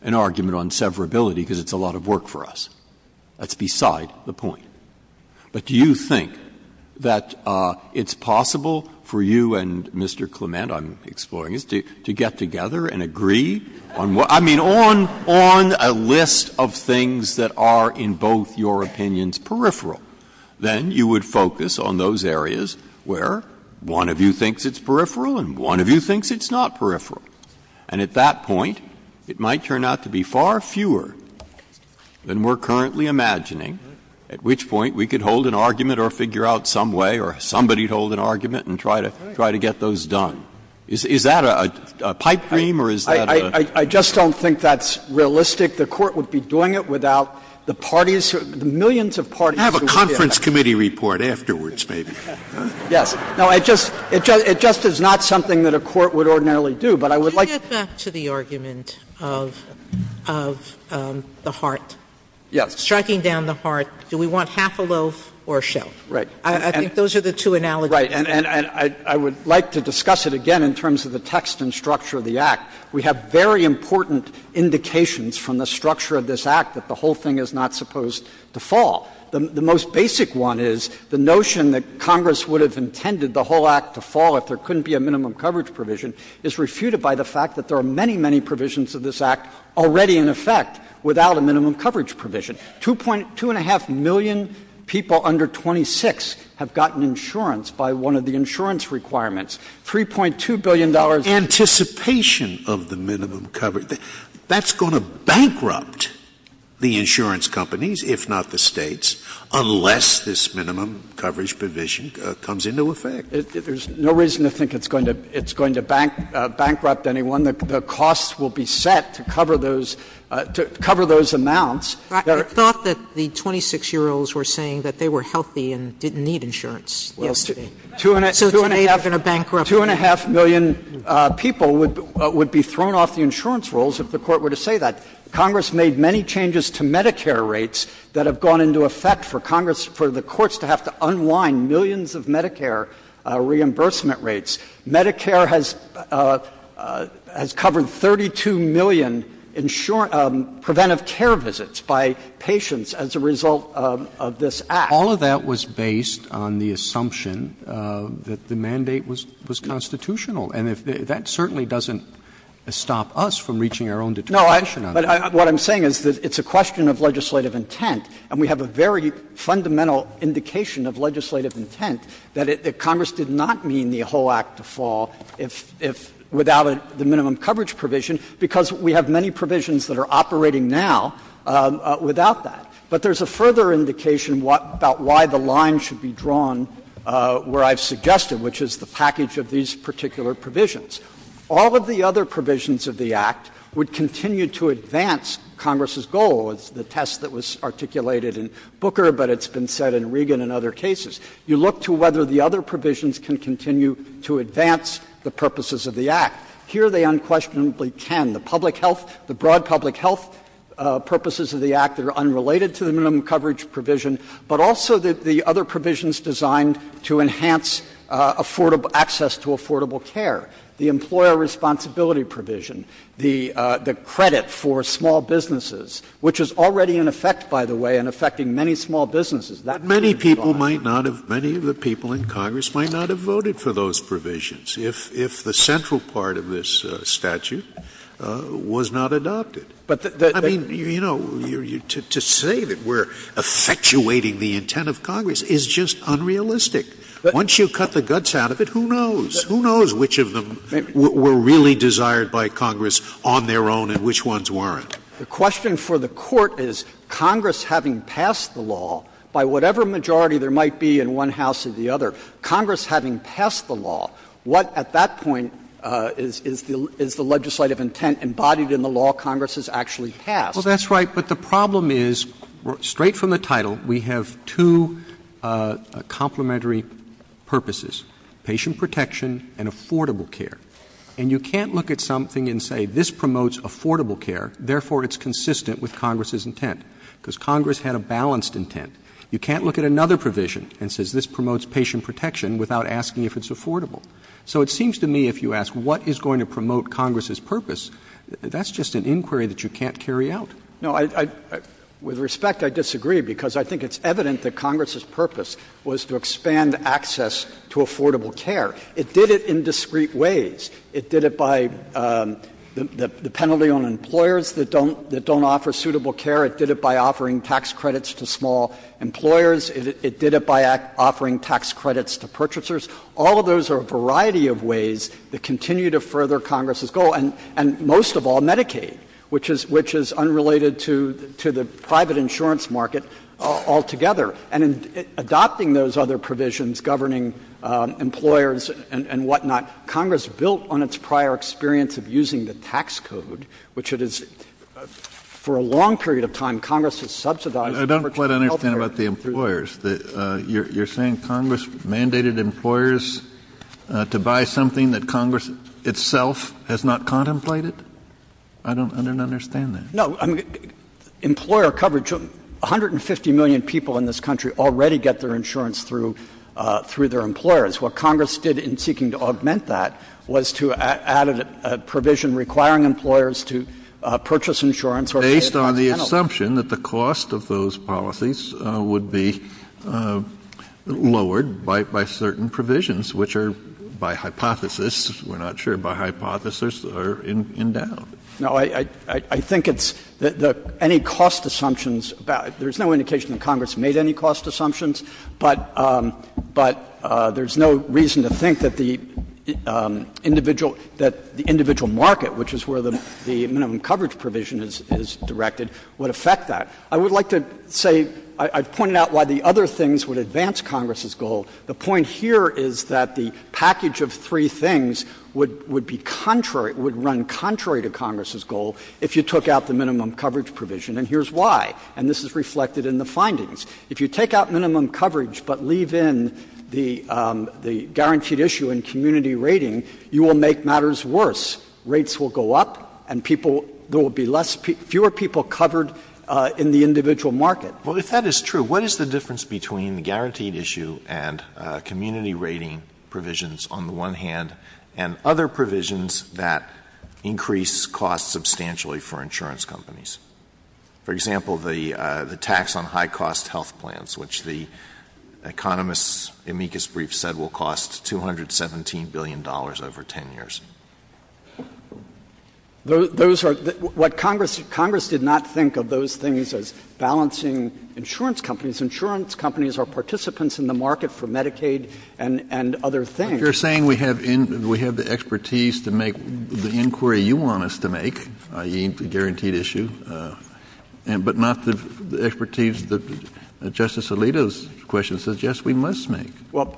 an argument on severability because it's a lot of work for us. That's beside the point, but do you think that it's possible for you and Mr. Clement — I'm exploring this — to get together and agree on what — I mean, on a list of things that are, in both your opinions, peripheral? Then you would focus on those areas where one of you thinks it's peripheral and one of you thinks it's not peripheral, and at that point, it might turn out to be far fewer than we're currently imagining, at which point we could hold an argument or figure out some way, or somebody hold an argument and try to get those done. Is that a pipe dream, or is that a — I just don't think that's realistic. The Court would be doing it without the parties, millions of parties — Have a conference committee report afterwards, maybe. Yes. No, it just is not something that a court would ordinarily do, but I would like — Back to the argument of the heart. Striking down the heart, do we want half a loaf or a shell? Right. I think those are the two analogies. Right, and I would like to discuss it again in terms of the text and structure of the Act. We have very important indications from the structure of this Act that the whole thing is not supposed to fall. The most basic one is the notion that Congress would have intended the whole Act to fall if there couldn't be a minimum coverage provision is refuted by the fact that there are many, many provisions of this Act already in effect without a minimum coverage provision. Two and a half million people under 26 have gotten insurance by one of the insurance requirements. $3.2 billion — Anticipation of the minimum coverage. That's going to bankrupt the insurance companies, if not the states, unless this minimum coverage provision comes into effect. There's no reason to think it's going to bankrupt anyone. The costs will be set to cover those amounts. I thought that the 26-year-olds were saying that they were healthy and didn't need insurance. Well, two and a half million people would be thrown off the insurance rolls if the Court were to say that. Congress made many changes to Medicare rates that have gone into effect for the courts to have to unwind millions of Medicare reimbursement rates. Medicare has covered 32 million preventive care visits by patients as a result of this Act. All of that was based on the assumption that the mandate was constitutional. And that certainly doesn't stop us from reaching our own determination on that. What I'm saying is that it's a question of legislative intent, and we have a very fundamental indication of legislative intent that Congress did not mean the whole Act to fall without the minimum coverage provision, because we have many provisions that are operating now without that. But there's a further indication about why the line should be drawn where I've suggested, which is the package of these particular provisions. All of the other provisions of the Act would continue to advance Congress's goal. It's the test that was articulated in Booker, but it's been said in Reagan and other cases. You look to whether the other provisions can continue to advance the purposes of the Act. Here they unquestionably can. The public health, the broad public health purposes of the Act that are unrelated to the minimum coverage provision, but also the other provisions designed to enhance access to affordable care. The employer responsibility provision, the credit for small businesses, which is already in effect, by the way, and affecting many small businesses. Many of the people in Congress might not have voted for those provisions if the central part of this statute was not adopted. To say that we're effectuating the intent of Congress is just we're really desired by Congress on their own and which ones weren't. The question for the court is Congress having passed the law, by whatever majority there might be in one house or the other, Congress having passed the law, what at that point is the legislative intent embodied in the law Congress has actually passed? Well, that's right. But the problem is, straight from the title, we have two complementary purposes, patient protection and affordable care. And you can't look at something and say, this promotes affordable care, therefore it's consistent with Congress's intent, because Congress had a balanced intent. You can't look at another provision and say this promotes patient protection without asking if it's affordable. So it seems to me if you ask what is going to promote Congress's purpose, that's just an inquiry that you can't carry out. No, with respect, I disagree because I think it's evident that Congress's purpose was to expand access to affordable care. It did it in discrete ways. It did it by the penalty on employers that don't offer suitable care. It did it by offering tax credits to small employers. It did it by offering tax credits to purchasers. All of those are a variety of ways that continue to further Congress's goal, and most of all Medicaid, which is unrelated to the private insurance market altogether. And in adopting those other provisions, governing employers and whatnot, Congress built on its prior experience of using the tax code, which it has, for a long period of time, Congress has subsidized. I don't quite understand about the employers. You're saying Congress mandated employers to buy something that Congress itself has not contemplated? I don't understand that. No, I mean, employer coverage, 150 million people in this country already get their insurance through their employers. What Congress did in seeking to augment that was to add a provision requiring employers to purchase insurance based on the assumption that the cost of those policies would be lowered by certain provisions, which are, by hypothesis, we're not sure, or in doubt. No, I think it's that any cost assumptions, there's no indication that Congress made any cost assumptions, but there's no reason to think that the individual market, which is where the minimum coverage provision is directed, would affect that. I would like to say, I pointed out why the other things would advance Congress's goal. The point here is that the package of three things would run contrary to Congress's goal if you took out the minimum coverage provision, and here's why. And this is reflected in the findings. If you take out minimum coverage but leave in the guaranteed issue and community rating, you will make matters worse. Rates will go up, and there will be fewer people covered in the individual market. Well, if that is true, what is the difference between the guaranteed issue and community rating provisions on the one hand, and other provisions that increase costs substantially for insurance companies? For example, the tax on high-cost health plans, which the economists' amicus brief said will cost $217 billion over 10 years. What Congress did not think of those things as insurance companies. Insurance companies are participants in the market for Medicaid and other things. But you're saying we have the expertise to make the inquiry you want us to make, i.e., the guaranteed issue, but not the expertise that Justice Alito's question suggests we must make. Well,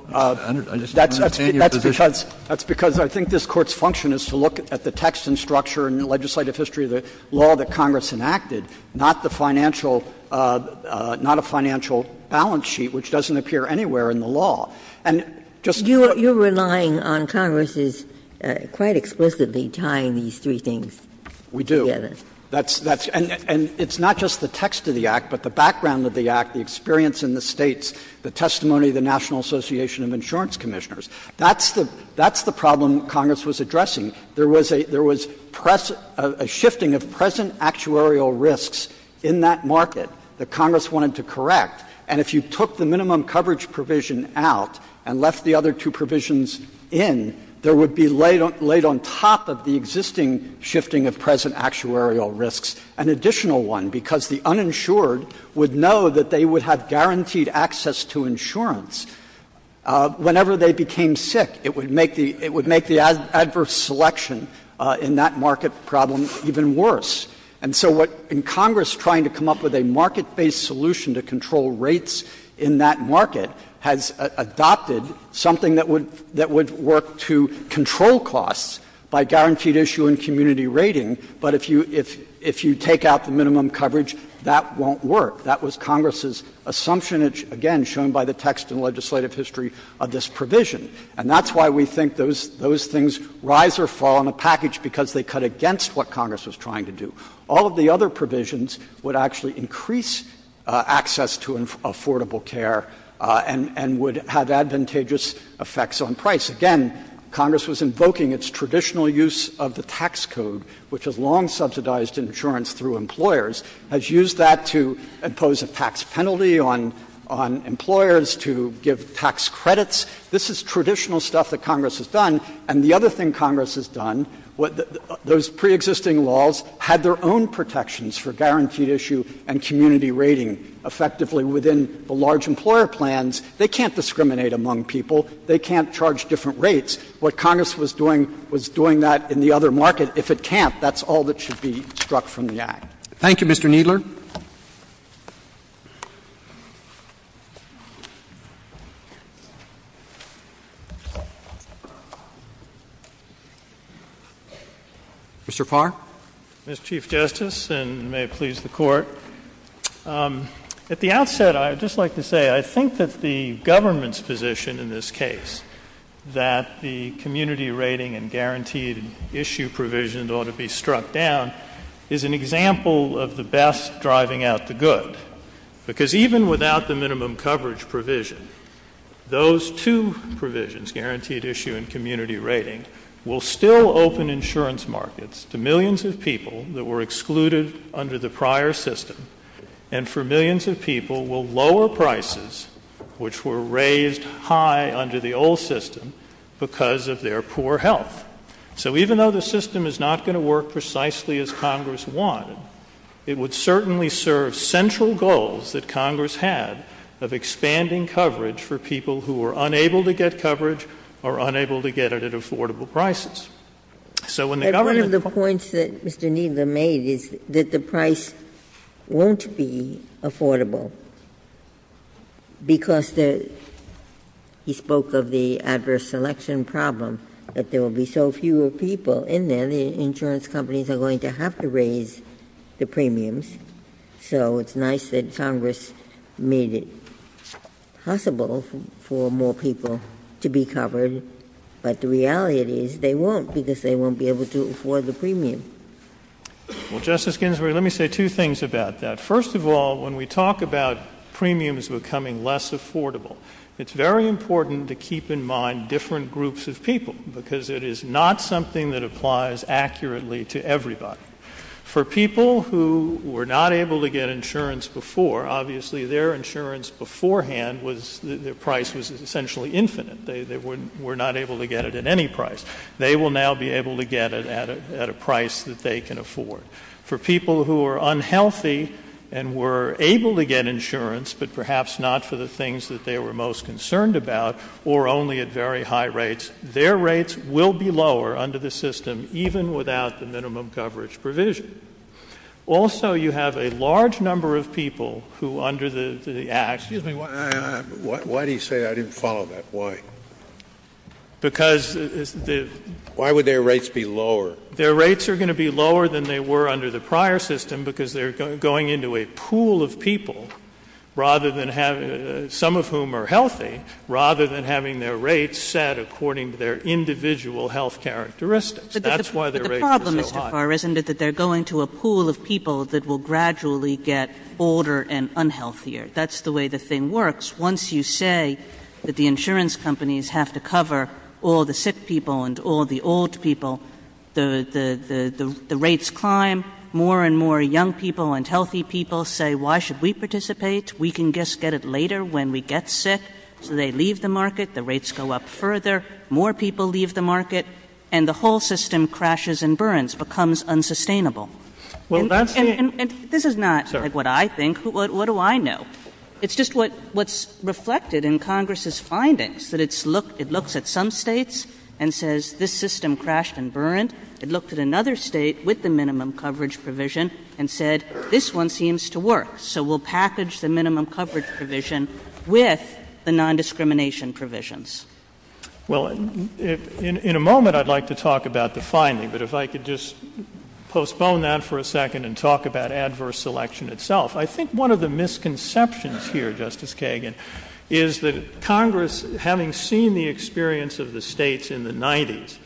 that's because I think this Court's function is to look at the text and structure and legislative history of the law that Congress enacted, not a financial balance sheet which doesn't appear anywhere in the law. And you're relying on Congress's quite explicitly tying these three things together. We do. And it's not just the text of the Act, but the background of the Act, the experience in the States, the testimony of the National Association of Insurance Commissioners. That's the problem Congress was addressing. There was a shifting of present actuarial risks in that market that Congress wanted to correct. And if you took the minimum coverage provision out and left the other two provisions in, there would be laid on top of the existing shifting of present actuarial risks an additional one, because the uninsured would know that they would have guaranteed access to insurance. Whenever they became sick, it would make the adverse selection in that market problem even worse. And so what — and Congress trying to come up with a market-based solution to control rates in that market has adopted something that would work to control costs by guaranteed issue and community rating, but if you take out the minimum coverage, that won't work. That was Congress's assumption, again, shown by the text and legislative history of this provision. And that's why we think those things rise or fall in the package, because they cut against what Congress was trying to do. All of the other provisions would actually increase access to affordable care and would have advantageous effects on price. Again, Congress was invoking its traditional use of the tax code, which has long subsidized insurance through employers, has used that to impose a tax penalty on employers to give tax credits. This is traditional stuff that Congress has done. And the other thing Congress has done, those preexisting laws had their own protections for guaranteed issue and community rating effectively within the large employer plans. They can't discriminate among people. They can't charge different rates. What Congress was doing was doing that in the other market. But if it can't, that's all that should be struck from the act. Thank you, Mr. Kneedler. Mr. Farr? Mr. Chief Justice, and may it please the Court, at the outset, I would just like to say I think that the government's position in this case, that the community rating and guaranteed issue provisions ought to be struck down, is an example of the best driving out the good. Because even without the minimum coverage provision, those two provisions, guaranteed issue and community rating, will still open insurance markets to millions of people that were excluded under the prior system and for millions of people will lower prices, which were raised high under the old system, because of their poor health. So even though the system is not going to work precisely as Congress wanted, it would certainly serve central goals that Congress had of expanding coverage for people who were unable to get coverage or unable to get it at affordable prices. And one of the points that Mr. Kneedler made is that the price won't be affordable, because he spoke of the adverse selection problem, that there will be so fewer people in there, the insurance companies are going to have to raise the premiums. So it's nice that Congress made it possible for more people to be covered, but the reality is they won't, because they won't be able to afford the premium. Well, Justice Ginsburg, let me say two things about that. First of all, when we talk about premiums becoming less affordable, it's very important to keep in mind different groups of people, because it is not something that applies accurately to everybody. For people who were not able to get insurance before, obviously their insurance beforehand was, their price was essentially infinite. They were not able to get it at any price. They will now be able to get it at a price that they can afford. For people who are unhealthy and were able to get insurance, but perhaps not for the things that they were most concerned about, or only at very high rates, their rates will be lower under the system, even without the minimum coverage provision. Also, you have a large number of people who under the Act— Excuse me, why do you say I didn't follow that? Why? Because— Why would their rates be lower? Their rates are going to be lower than they were under the prior system, because they're going into a pool of people, some of whom are healthy, rather than having their rates set according to their individual health characteristics. That's why their rates are so high. But the problem, Mr. Carr, isn't it that they're going to a pool of people that will gradually get older and unhealthier. That's the way the thing works. Once you say that the insurance companies have to cover all the sick people and all the old people, the rates climb, more and more young people and healthy people say, why should we participate? We can just get it later when we get sick. So they leave the market, the rates go up further, more people leave the market, and the whole system crashes and burns, becomes unsustainable. This is not what I think. What do I know? It's just what's reflected in Congress's findings, that it looks at some states and says, this system crashed and burned. It looked at another state with the minimum coverage provision and said, this one seems to work. So we'll package the minimum coverage provision with the nondiscrimination provisions. JUSTICE BREYER. Well, in a moment I'd like to talk about the finding, but if I could just postpone that for a second and talk about adverse selection itself. I think one of the misconceptions here, Justice Kagan, is that Congress, having seen the experience of the states in the 90s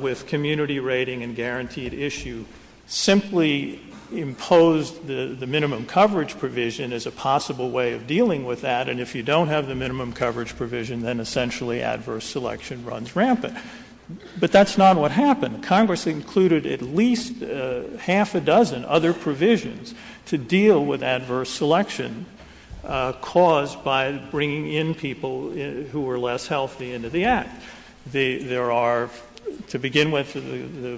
with community rating and guaranteed issue, simply imposed the minimum coverage provision as a possible way of dealing with that, and if you don't have the minimum coverage provision, then essentially adverse selection runs rampant. But that's not what happened. Congress included at least half a dozen other provisions to deal with adverse selection caused by bringing in people who were less healthy into the Act. There are, to begin with,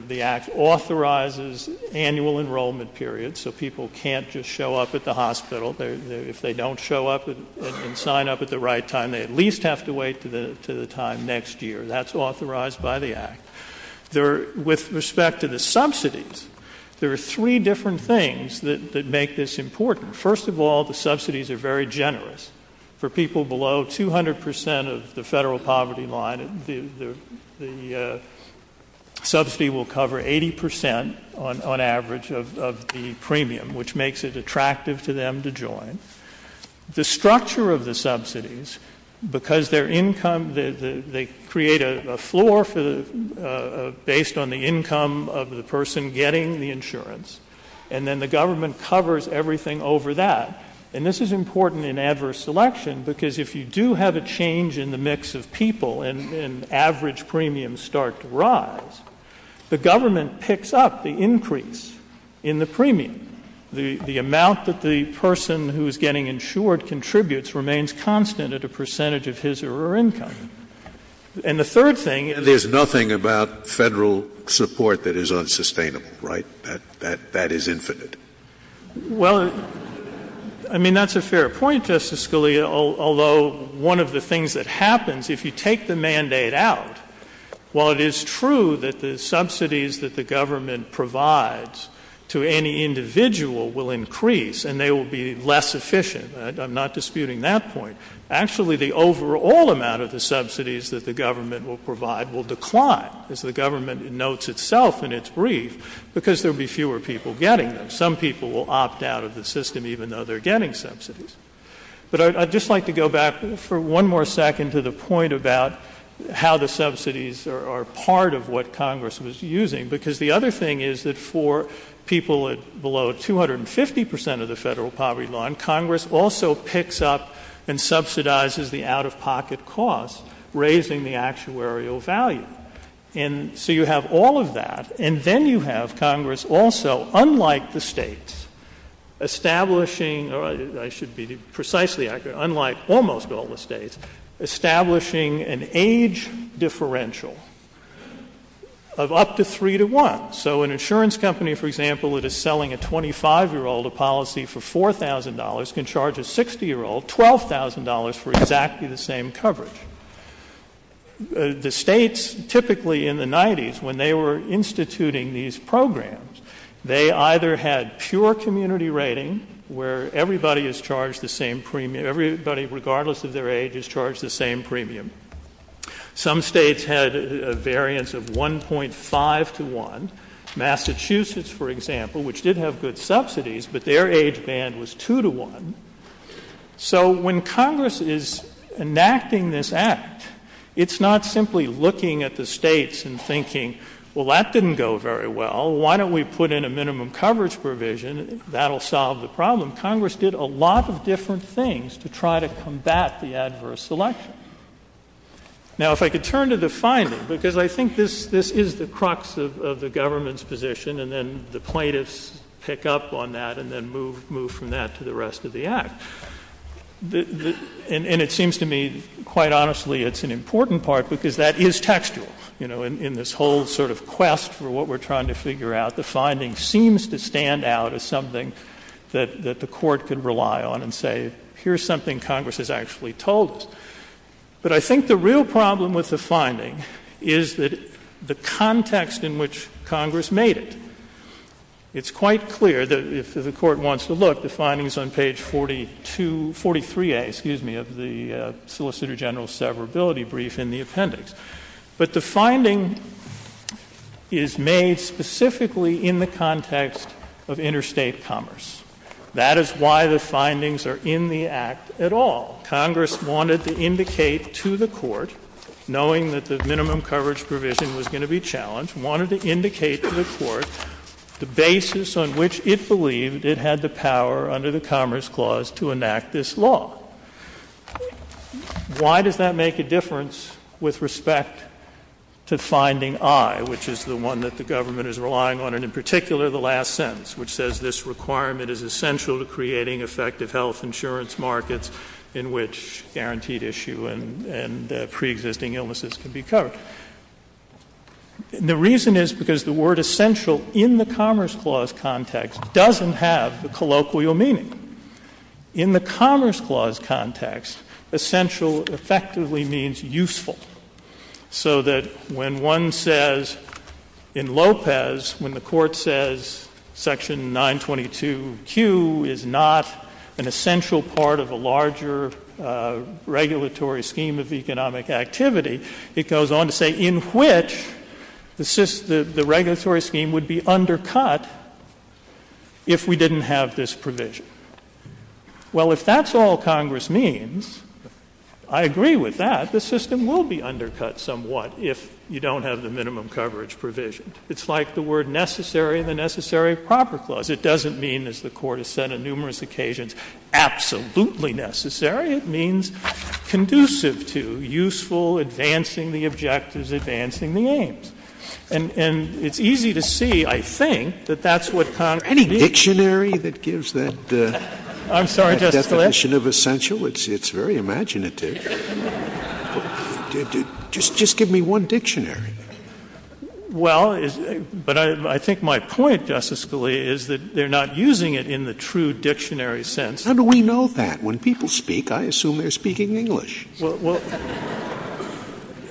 the Act authorizes annual enrollment periods, so people can't just show up at the hospital. If they don't show up and sign up at the right time, they at least have to wait to the time next year. That's authorized by the Act. With respect to the subsidies, there are three different things that make this important. First of all, the subsidies are very generous. For people below 200 percent of the federal poverty line, the subsidy will cover 80 percent on average of the premium, which makes it attractive to them to join. The structure of the subsidies, because their income, they create a floor based on the income of the person getting the insurance, and then the government covers everything over that. And this is important in adverse selection, because if you do have a change in the mix of people and average premiums start to rise, the government picks up the increase in the premium. The amount that the person who's getting insured contributes remains constant at a percentage of his or her income. And the third thing is- There's nothing about federal support that is unsustainable, right? That is infinite. Well, I mean, that's a fair point, Justice Scalia, although one of the things that happens if you take the mandate out, while it is true that the subsidies that the government provides to any individual will increase and they will be less efficient, I'm not disputing that point. Actually, the overall amount of the subsidies that the government will provide will decline, as the government notes itself in its brief, because there will be fewer people getting them. Some people will opt out of the system even though they're getting subsidies. But I'd just like to go back for one more second to the point about how the subsidies are part of what Congress was using, because the other thing is that for people below 250 percent of the federal poverty line, Congress also picks up and subsidizes the out-of-pocket costs, raising the actuarial value. And so you have all of that. And then you have Congress also, unlike the states, establishing-or I should be precisely accurate, unlike almost all the states-establishing an age differential of up to three to one. So an insurance company, for example, that is selling a 25-year-old a policy for $4,000 can charge a 60-year-old $12,000 for exactly the same coverage. The states, typically in the 90s, when they were instituting these programs, they either had pure community rating, where everybody is charged the same premium-everybody, regardless of their age, is charged the same premium. Some states had a variance of 1.5 to 1. Massachusetts, for example, which did have good subsidies, but their age band was two to one. So when Congress is enacting this act, it's not simply looking at the states and thinking, well, that didn't go very well. Why don't we put in a minimum coverage provision? That'll solve the problem. Congress did a lot of different things to try to combat the adverse selection. Now, if I could turn to the finding, because I think this is the crux of the government's position, and then the plaintiffs pick up on that and then move from that to the rest of the act. And it seems to me, quite honestly, it's an important part, because that is textual. You know, in this whole sort of quest for what we're trying to figure out, the finding seems to stand out as something that the Court can rely on and say, here's something Congress has actually told us. But I think the real problem with the finding is that the context in which Congress made it. It's quite clear that if the Court wants to look, the findings on page 42, 43a, excuse me, of the Solicitor General's severability brief in the appendix. But the finding is made specifically in the context of interstate commerce. That is why the findings are in the act at all. Congress wanted to indicate to the Court, knowing that the minimum coverage provision was going to be challenged, wanted to indicate to the Court the basis on which it believed it had the power under the Commerce Clause to enact this law. Why does that make a difference with respect to finding I, which is the one that the government is relying on, and in particular, the last sentence, which says this requirement is essential to creating effective health insurance markets in which guaranteed issue and pre-existing illnesses can be covered? The reason is because the word essential in the Commerce Clause context doesn't have the colloquial meaning. In the Commerce Clause context, essential effectively means useful. So that when one says in Lopez, when the Court says section 922Q is not an essential part of the larger regulatory scheme of economic activity, it goes on to say in which the regulatory scheme would be undercut if we didn't have this provision. Well, if that's all Congress means, I agree with that. The system will be undercut somewhat if you don't have the minimum coverage provision. It's like the word necessary in the Necessary Proper Clause. It doesn't mean, as the Court has said on numerous occasions, absolutely necessary. It means conducive to useful, advancing the objectives, advancing the aims. And it's easy to see, I think, that that's what Congress— I'm sorry, Justice Scalia? —that definition of essential, it's very imaginative. Just give me one dictionary. Well, but I think my point, Justice Scalia, is that they're not using it in the true dictionary sense. How do we know that? When people speak, I assume they're speaking English.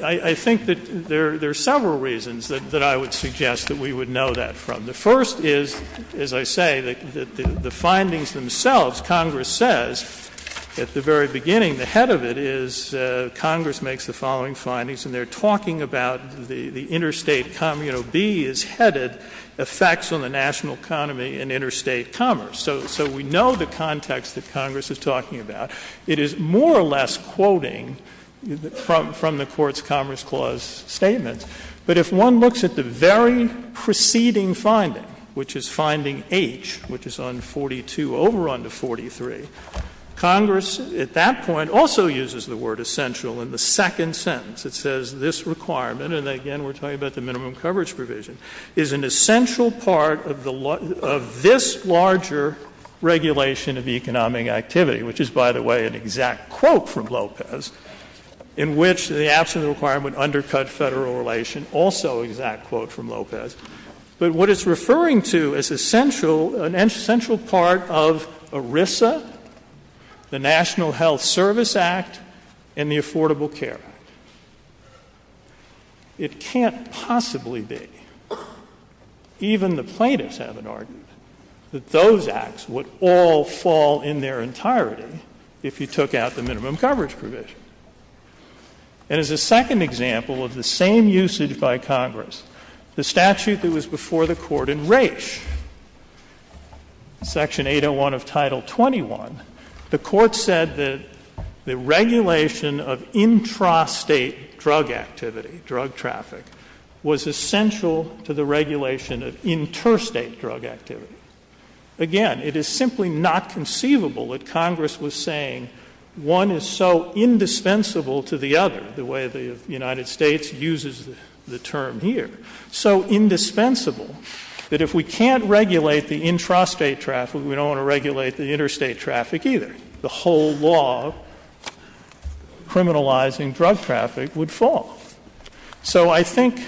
I think that there are several reasons that I would suggest that we would know that from. The first is, as I say, that the findings themselves, Congress says at the very beginning, the head of it is Congress makes the following findings. And they're talking about the interstate, you know, B is headed, effects on the national economy and interstate commerce. So we know the context that Congress is talking about. It is more or less quoting from the Court's Congress Clause statement. But if one looks at the very preceding finding, which is finding H, which is on 42 over on the 43, Congress at that point also uses the word essential in the second sentence. It says this requirement—and again, we're talking about the minimum coverage provision—is an essential part of this larger regulation of economic activity, which is, by the way, an exact quote from Lopez, in which the absolute requirement undercut federal relation, also exact quote from Lopez. But what it's referring to is an essential part of ERISA, the National Health Service Act, and the Affordable Care Act. It can't possibly be, even the plaintiffs have an argument, that those acts would all fall in their entirety if you took out the minimum coverage provision. And as a second example of the same usage by Congress, the statute that was before the Court in Raich, Section 801 of Title 21, the Court said that the regulation of intrastate drug activity, drug traffic, was essential to the regulation of interstate drug activity. Again, it is simply not conceivable that Congress was saying one is so indispensable to the other, the way the United States uses the term here, so indispensable that if we can't regulate the intrastate traffic, we don't want to regulate the interstate traffic either. The whole law criminalizing drug traffic would fall. So I think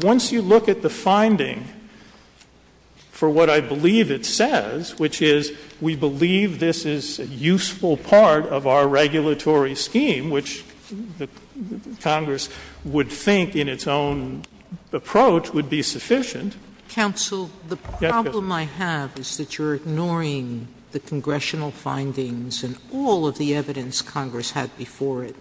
once you look at the finding for what I believe it says, which is we believe this is a useful part of our regulatory scheme, which Congress would think in its own approach would be sufficient. Counsel, the problem I have is that you're ignoring the congressional findings and all the evidence Congress had before it,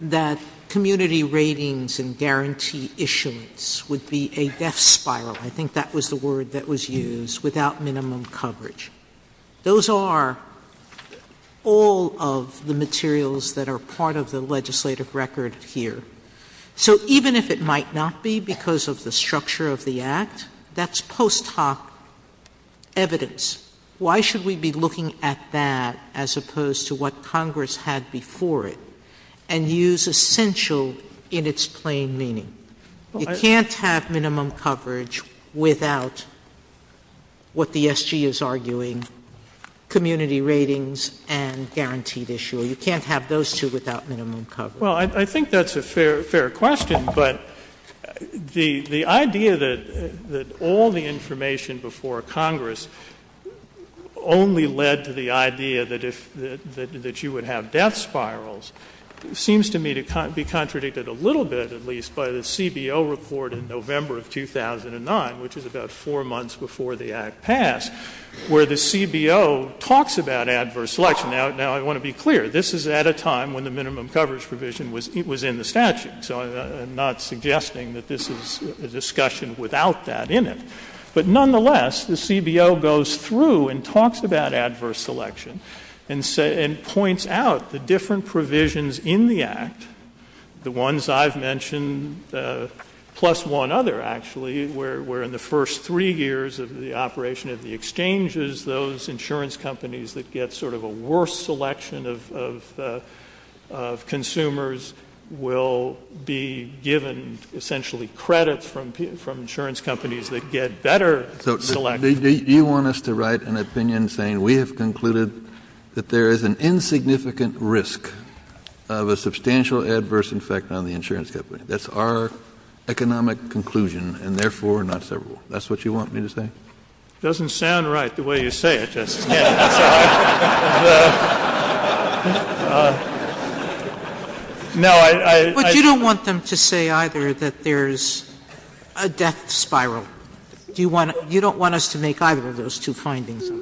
that community ratings and guarantee issuance would be a death spiral, I think that was the word that was used, without minimum coverage. Those are all of the materials that are part of the legislative record here. So even if it might not be because of the structure of the Act, that's post hoc evidence. Why should we be looking at that as opposed to what Congress had before it, and use essential in its plain meaning? You can't have minimum coverage without what the SG is arguing, community ratings and guaranteed issuer, you can't have those two without minimum coverage. I think that's a fair question, but the idea that all the information before Congress only led to the idea that you would have death spirals seems to me to be contradicted a little bit at least by the CBO report in November of 2009, which is about four months before the Act passed, where the CBO talks about adverse selection. Now I want to be clear, this is at a time when the minimum coverage provision was in the statute, so I'm not suggesting that this is a discussion without that in it. But nonetheless, the CBO goes through and talks about adverse selection, and points out the different provisions in the Act, the ones I've mentioned, plus one other actually, where in the first three years of the operation of the exchanges, those insurance companies that get sort of a worse selection of consumers will be given essentially credit from insurance companies that get better selection. Do you want us to write an opinion saying we have concluded that there is an insignificant risk of a substantial adverse effect on the insurance company? That's our economic conclusion, and therefore not several. That's what you want me to say? It doesn't sound right, the way you say it, Justice Kennedy. No, I— But you don't want them to say either that there's a death spiral. You don't want us to make either of those two findings, do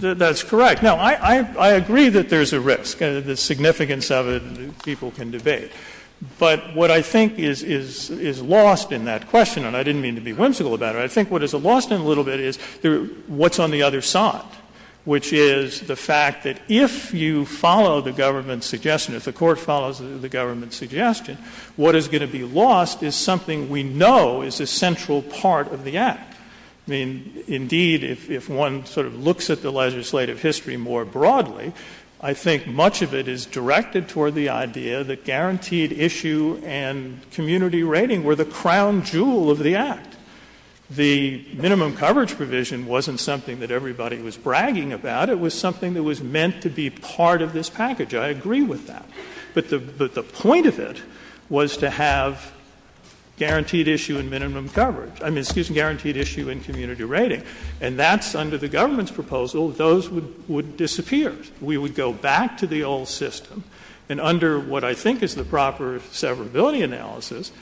you? That's correct. No, I agree that there's a risk, and the significance of it people can debate. But what I think is lost in that question, and I didn't mean to be whimsical about it, I think what is lost in it a little bit is what's on the other side, which is the fact that if you follow the government's suggestion, if the court follows the government's suggestion, what is going to be lost is something we know is a central part of the Act. I mean, indeed, if one sort of looks at the legislative history more broadly, I think much of it is directed toward the idea that guaranteed issue and community rating were crown jewel of the Act. The minimum coverage provision wasn't something that everybody was bragging about. It was something that was meant to be part of this package. I agree with that. But the point of it was to have guaranteed issue and minimum coverage—I mean, excuse me, guaranteed issue and community rating. And that's under the government's proposal. Those would disappear. We would go back to the old system, and under what I think is the proper severability analysis,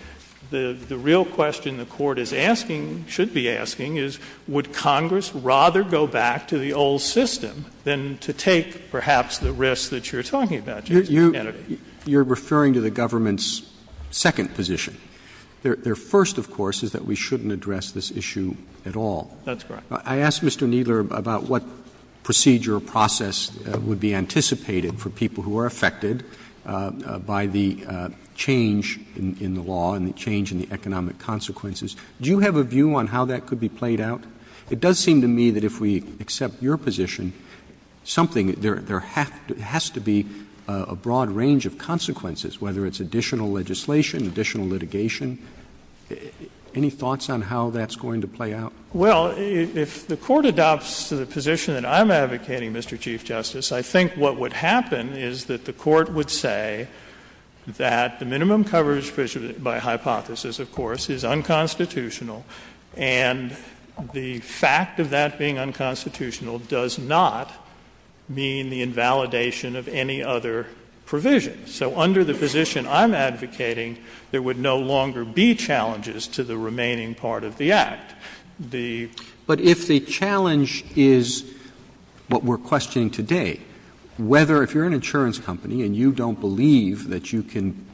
the real question the court is asking, should be asking, is would Congress rather go back to the old system than to take, perhaps, the risks that you're talking about, Justice Kennedy? You're referring to the government's second position. Their first, of course, is that we shouldn't address this issue at all. That's correct. I asked Mr. Kneedler about what procedure or process would be anticipated for people who are affected by the change in the law and the change in the economic consequences. Do you have a view on how that could be played out? It does seem to me that if we accept your position, there has to be a broad range of consequences, whether it's additional legislation, additional litigation. Any thoughts on how that's going to play out? Well, if the court adopts the position that I'm advocating, Mr. Chief Justice, I think what would happen is that the court would say that the minimum coverage provision, by hypothesis, of course, is unconstitutional, and the fact of that being unconstitutional does not mean the invalidation of any other provision. So under the position I'm advocating, there would no longer be challenges to the remaining part of the Act. But if the challenge is what we're questioning today, whether if you're an insurance company and you don't believe that you can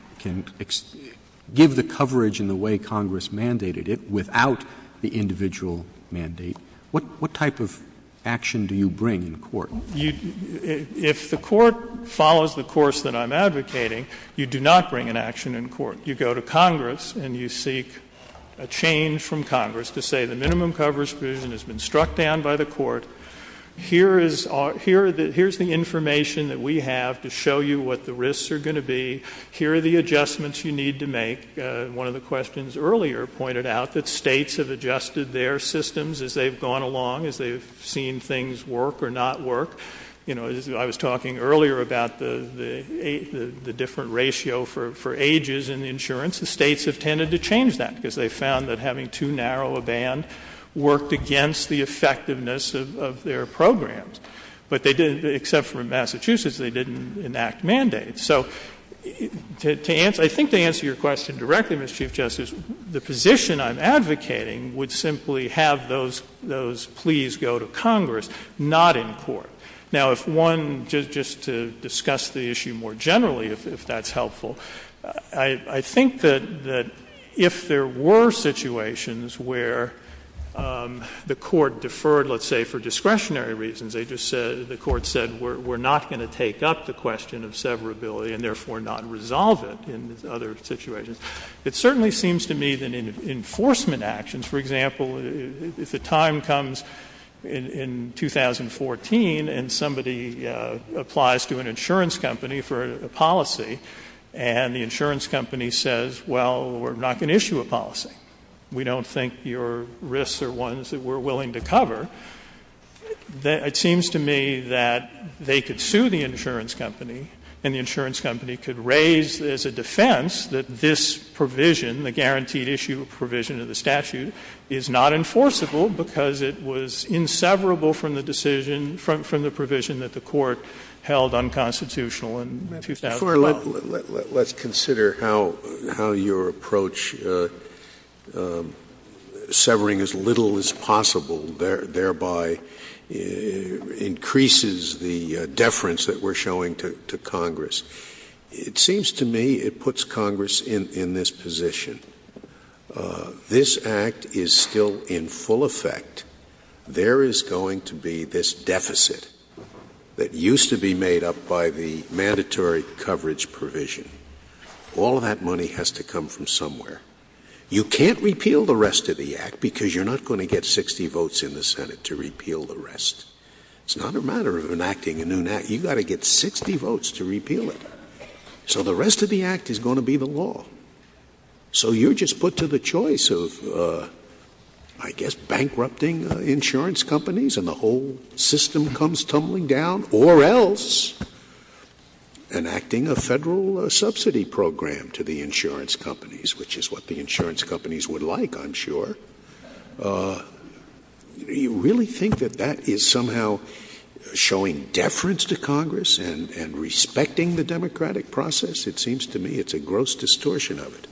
give the coverage in the way Congress mandated it without the individual mandate, what type of action do you bring in court? If the court follows the course that I'm advocating, you do not bring an action in court. You go to Congress and you seek a change from Congress to say the minimum coverage provision has been struck down by the court. Here is the information that we have to show you what the risks are going to be. Here are the adjustments you need to make. One of the questions earlier pointed out that states have adjusted their systems as they've gone along, as they've seen things work or not work. I was talking earlier about the different ratio for ages in insurance. The states have tended to change that because they've found that having too narrow a band worked against the effectiveness of their programs. Except for Massachusetts, they didn't enact mandates. I think to answer your question directly, Mr. Chief Justice, the position I'm advocating would simply have those pleas go to Congress, not in court. If one, just to discuss the issue more generally, if that's helpful, I think that if there were situations where the court deferred, let's say for discretionary reasons, the court said we're not going to take up the question of severability and therefore not resolve it in other situations, it certainly seems to me that in enforcement actions, for example, if the time comes in 2014 and somebody applies to an insurance company for a policy and the insurance company says, well, we're not going to issue a policy, we don't think your risks are ones that we're willing to cover, it seems to me that they could sue the insurance company and the insurance company could raise as a defense that this provision, the guarantee issue provision of the statute, is not enforceable because it was inseverable from the decision, from the provision that the court held unconstitutional in 2012. Let's consider how your approach severing as little as possible thereby increases the deference that we're showing to Congress. It seems to me it puts Congress in this position. This act is still in full effect. There is going to be this deficit that used to be made up by the mandatory coverage provision. All of that money has to come from somewhere. You can't repeal the rest of the act because you're not going to get 60 votes in the Senate to repeal the rest. It's not a matter of enacting a new act. You've got to get 60 votes to repeal it. So the rest of the act is going to be the law. So you're just put to the choice of, I guess, bankrupting insurance companies and the whole system comes tumbling down or else enacting a federal subsidy program to the insurance companies, which is what the insurance companies would like, I'm sure. Do you really think that that is somehow showing deference to Congress and respecting the democratic process? It seems to me it's a gross distortion of it.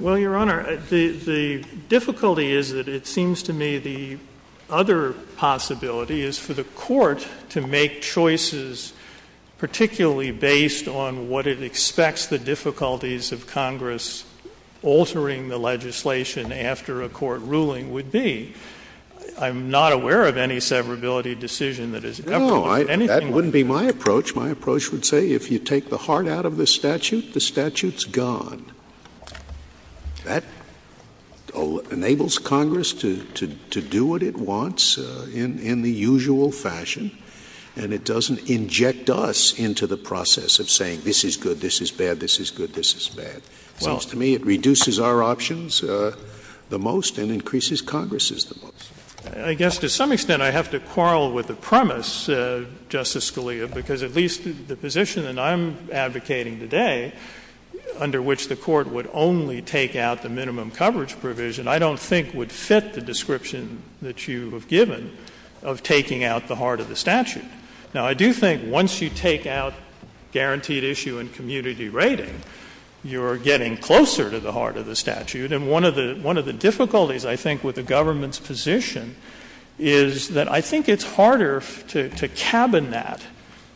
Well, Your Honor, the difficulty is that it seems to me the other possibility is for the court to make choices particularly based on what it expects the difficulties of Congress altering the legislation after a court ruling would be. I'm not aware of any severability decision that has ever been made. No, that wouldn't be my approach. My approach would say if you take the heart out of the statute, the statute's gone. That enables Congress to do what it wants in the usual fashion and it doesn't inject us into the process of saying this is good, this is bad, this is good, this is bad. To me, it reduces our options the most and increases Congress's the most. I guess to some extent I have to quarrel with the premise, Justice Scalia, because at least the position that I'm advocating today under which the court would only take out the minimum coverage provision I don't think would fit the description that you have given of taking out the heart of the statute. Now, I do think once you take out guaranteed issue and community rating, you are getting closer to the heart of the statute. And one of the difficulties, I think, with the government's position is that I think it's harder to cabin that,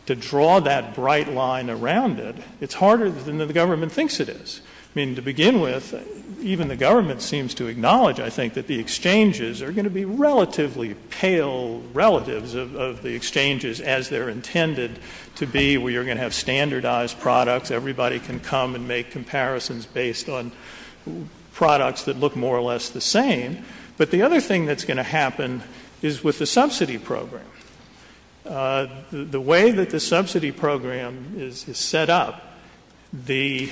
to draw that bright line around it. It's harder than the government thinks it is. I mean, to begin with, even the government seems to acknowledge, I think, that the exchanges are going to be relatively pale relatives of the exchanges as they're intended to be. We are going to have standardized products. Everybody can come and make comparisons based on products that look more or less the same. But the other thing that's going to happen is with the subsidy program. The way that the subsidy program is set up, the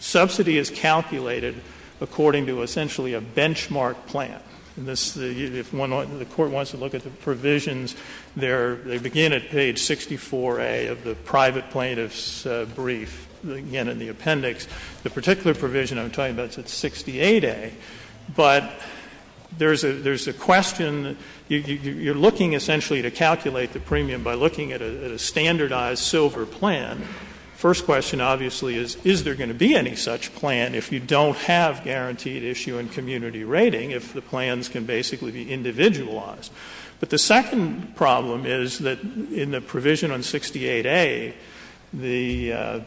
subsidy is calculated according to essentially a benchmark plan. If the court wants to look at the provisions, they begin at page 64A of the private plaintiff's brief, again, in the appendix. The particular provision I'm talking about is at 68A. But there's a question. You're looking essentially to calculate the premium by looking at a standardized silver plan. The first question, obviously, is, is there going to be any such plan if you don't have a guaranteed issue and community rating, if the plans can basically be individualized? But the second problem is that in the provision on 68A, the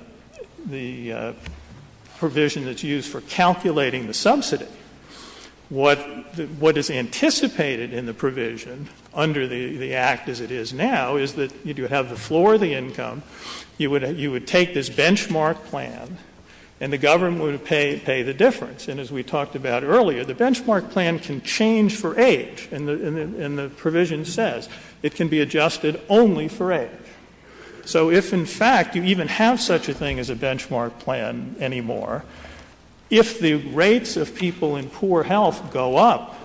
provision that's used for calculating the subsidy, what is anticipated in the provision under the act as it is now is that you do have the floor of the income, you would take this benchmark plan, and the government would pay the difference. And as we talked about earlier, the benchmark plan can change for age. And the provision says it can be adjusted only for age. So if, in fact, you even have such a thing as a benchmark plan anymore, if the rates of people in poor health go up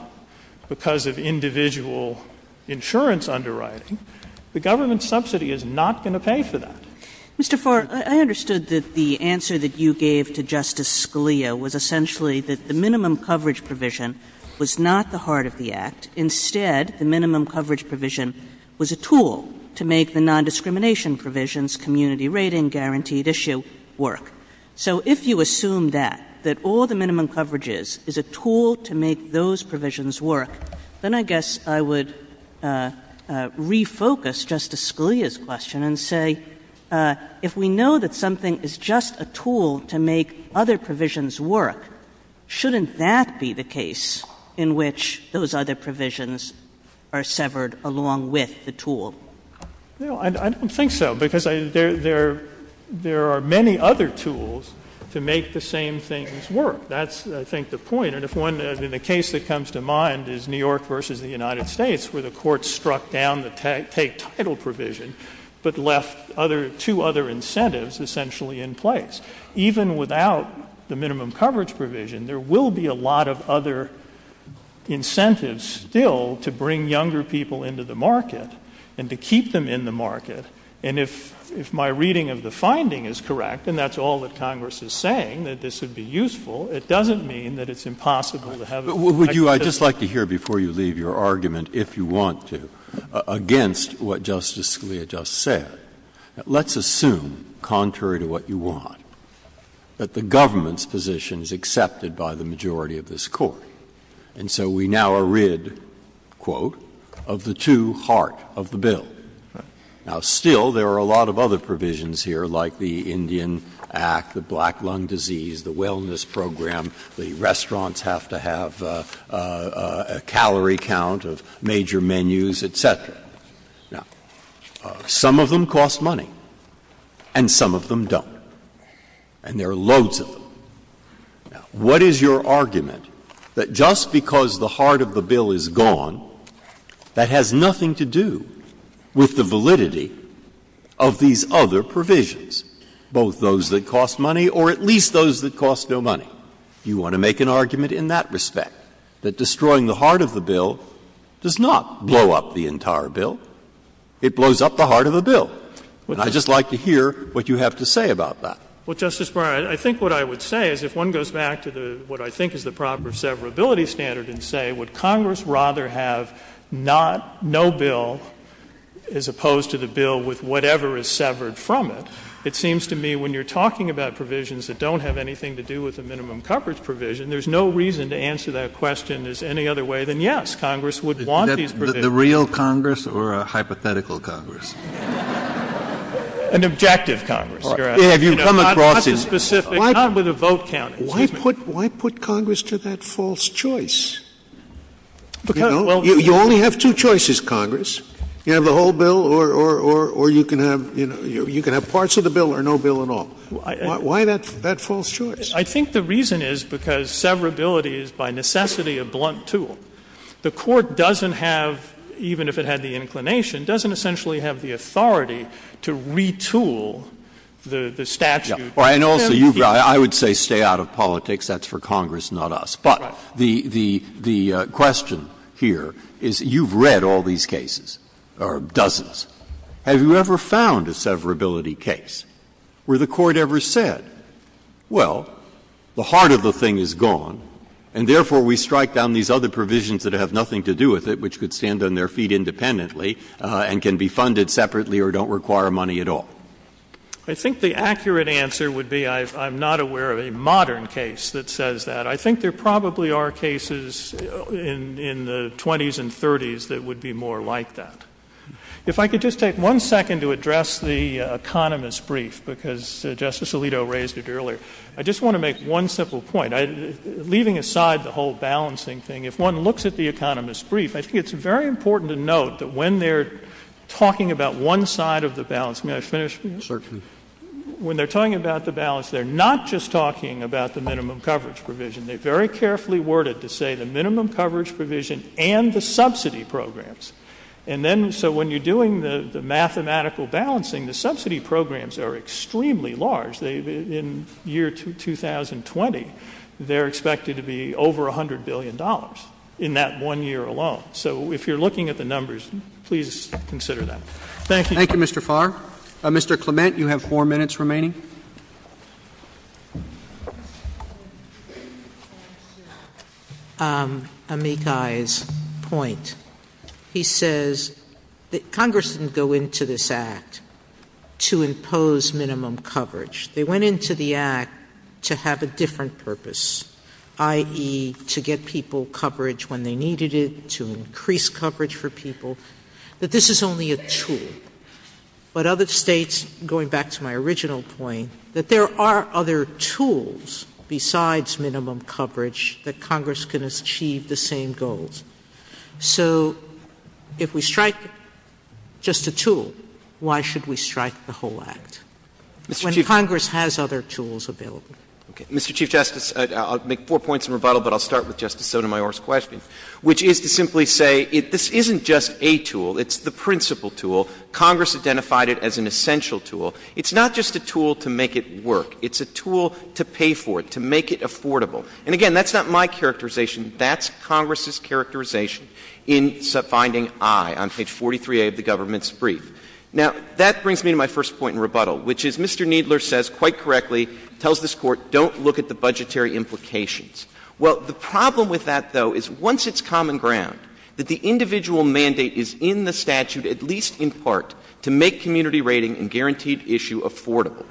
because of individual insurance underwriting, the government subsidy is not going to pay for that. Mr. Farr, I understood that the answer that you gave to Justice Scalia was essentially that the minimum coverage provision was not the heart of the act. Instead, the minimum coverage provision was a tool to make the nondiscrimination provisions, community rating, guaranteed issue, work. So if you assume that, that all the minimum coverage is, is a tool to make those provisions work, then I guess I would refocus Justice Scalia's question and say, if we know that something is just a tool to make other provisions work, shouldn't that be the case in which those other provisions are severed along with the tool? No, I don't think so. Because there are many other tools to make the same things work. That's, I think, the point. The case that comes to mind is New York versus the United States, where the court struck down the take title provision, but left two other incentives essentially in place. Even without the minimum coverage provision, there will be a lot of other incentives still to bring younger people into the market and to keep them in the market. And if my reading of the finding is correct, and that's all that Congress is saying, that this would be useful, it doesn't mean that it's impossible to have a type of system Would you, I'd just like to hear before you leave your argument, if you want to, against what Justice Scalia just said. Let's assume, contrary to what you want, that the government's position is accepted by the majority of this Court. And so we now are rid, quote, of the two heart of the bill. Now still, there are a lot of other provisions here, like the Indian Act, the Black Lung Disease, the wellness program, the restaurants have to have a calorie count of major menus, etc. Now, some of them cost money, and some of them don't. And there are loads of them. What is your argument that just because the heart of the bill is gone, that has nothing to do with the validity of these other provisions, both those that cost money, or at least those that cost no money? You want to make an argument in that respect, that destroying the heart of the bill does not blow up the entire bill. It blows up the heart of the bill. And I'd just like to hear what you have to say about that. Well, Justice Breyer, I think what I would say is, if one goes back to what I think is the proper severability standard and say, would Congress rather have no bill as opposed to the bill with whatever is severed from it? It seems to me, when you're talking about provisions that don't have anything to do with the minimum coverage provision, there's no reason to answer that question as any other way than, yes, Congress would want these provisions. Is that the real Congress or a hypothetical Congress? An objective Congress. You're asking. Have you come across it? I'm not so specific. It's not with a vote count. Why put Congress to that false choice? You only have two choices, Congress. You have the whole bill or you can have parts of the bill or no bill at all. Why that false choice? I think the reason is because severability is by necessity a blunt tool. The court doesn't have, even if it had the inclination, doesn't essentially have the authority to retool the statute. I would say stay out of politics. That's for Congress, not us. But the question here is, you've read all these cases or dozens, have you ever found a severability case where the court ever said, well, the heart of the thing is gone and therefore we strike down these other provisions that have nothing to do with it, which could stand on their feet independently and can be funded separately or don't require money at all? I think the accurate answer would be, I'm not aware of a modern case that says that. I think there probably are cases in the 20s and 30s that would be more like that. If I could just take one second to address the economist brief, because Justice Alito raised it earlier. I just want to make one simple point, leaving aside the whole balancing thing, if one looks at the economist brief, I think it's very important to note that when they're talking about one side of the balance, may I finish, please? Certainly. When they're talking about the balance, they're not just talking about the minimum coverage provision. They very carefully worded to say the minimum coverage provision and the subsidy programs. And then, so when you're doing the mathematical balancing, the subsidy programs are extremely large. In year 2020, they're expected to be over $100 billion in that one year alone. So if you're looking at the numbers, please consider that. Thank you. Thank you, Mr. Farr. Mr. Clement, you have four minutes remaining. Let me make Guy's point. He says that Congress didn't go into this Act to impose minimum coverage. They went into the Act to have a different purpose, i.e., to get people coverage when they needed it, to increase coverage for people, that this is only a tool. But other states, going back to my original point, that there are other tools besides minimum coverage that Congress can achieve the same goals. So if we strike just a tool, why should we strike the whole Act when Congress has other tools available? Okay. Mr. Chief Justice, I'll make four points in rebuttal, but I'll start with Justice Sotomayor's question, which is to simply say, this isn't just a tool. It's the principal tool. Congress identified it as an essential tool. It's not just a tool to make it work. It's a tool to pay for it, to make it affordable. And again, that's not my characterization. That's Congress's characterization in finding I on page 43A of the government's brief. Now that brings me to my first point in rebuttal, which is Mr. Kneedler says quite correctly, tells this Court, don't look at the budgetary implications. Well, the problem with that, though, is once it's common ground, that the individual mandate is in the statute, at least in part, to make community rating and guaranteed issue affordable.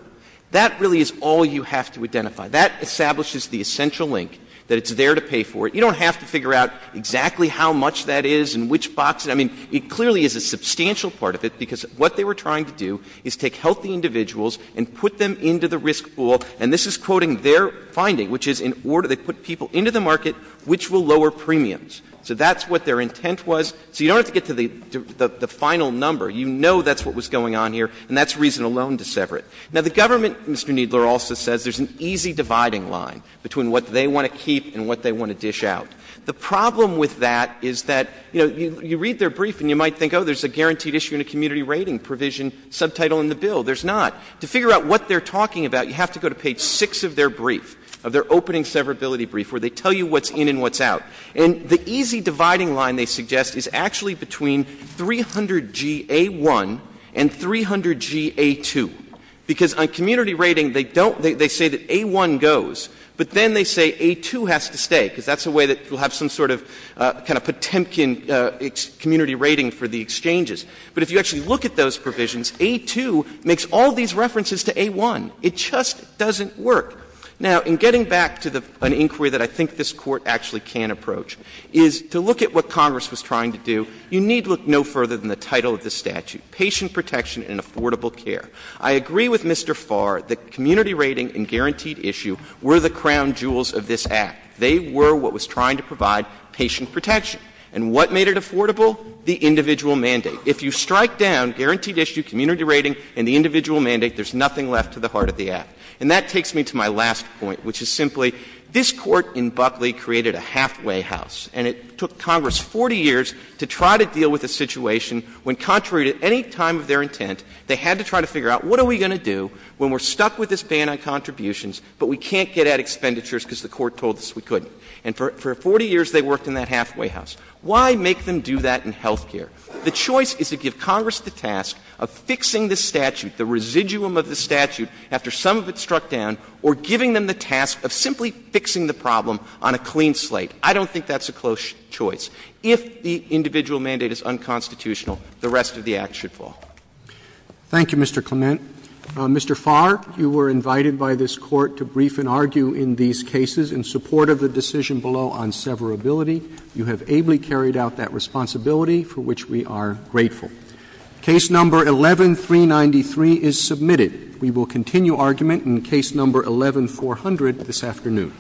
That really is all you have to identify. That establishes the essential link, that it's there to pay for it. You don't have to figure out exactly how much that is and which box it — I mean, it clearly is a substantial part of it, because what they were trying to do is take healthy individuals and put them into the risk pool. And this is quoting their finding, which is in order — they put people into the market which will lower premiums. So that's what their intent was. So you don't have to get to the final number. You know that's what was going on here, and that's reason alone to sever it. Now, the government, Mr. Kneedler also says, there's an easy dividing line between what they want to keep and what they want to dish out. The problem with that is that, you know, you read their brief and you might think, oh, there's a guaranteed issue and a community rating provision subtitle in the bill. There's not. To figure out what they're talking about, you have to go to page 6 of their brief, of their opening severability brief, where they tell you what's in and what's out. And the easy dividing line, they suggest, is actually between 300G A1 and 300G A2, because on community rating, they don't — they say that A1 goes, but then they say A2 has to stay, because that's a way that you'll have some sort of kind of Potemkin community rating for the exchanges. But if you actually look at those provisions, A2 makes all these references to A1. It just doesn't work. Now, in getting back to an inquiry that I think this Court actually can approach, is to look at what Congress was trying to do, you need look no further than the title of the statute, patient protection and affordable care. I agree with Mr. Farr that community rating and guaranteed issue were the crown jewels of this Act. They were what was trying to provide patient protection. And what made it affordable? The individual mandate. So if you strike down guaranteed issue, community rating, and the individual mandate, there's nothing left to the heart of the Act. And that takes me to my last point, which is simply, this Court in Buckley created a halfway house, and it took Congress 40 years to try to deal with a situation when contrary to any time of their intent, they had to try to figure out, what are we going to do when we're stuck with this ban on contributions, but we can't get at expenditures because the Court told us we couldn't? And for 40 years, they worked in that halfway house. Why make them do that in health care? The choice is to give Congress the task of fixing the statute, the residuum of the statute after some of it struck down, or giving them the task of simply fixing the problem on a clean slate. I don't think that's a close choice. If the individual mandate is unconstitutional, the rest of the Act should fall. Thank you, Mr. Clement. Mr. Farr, you were invited by this Court to brief and argue in these cases in support of the decision below on severability. You have ably carried out that responsibility, for which we are grateful. Case number 11-393 is submitted. We will continue argument in case number 11-400 this afternoon.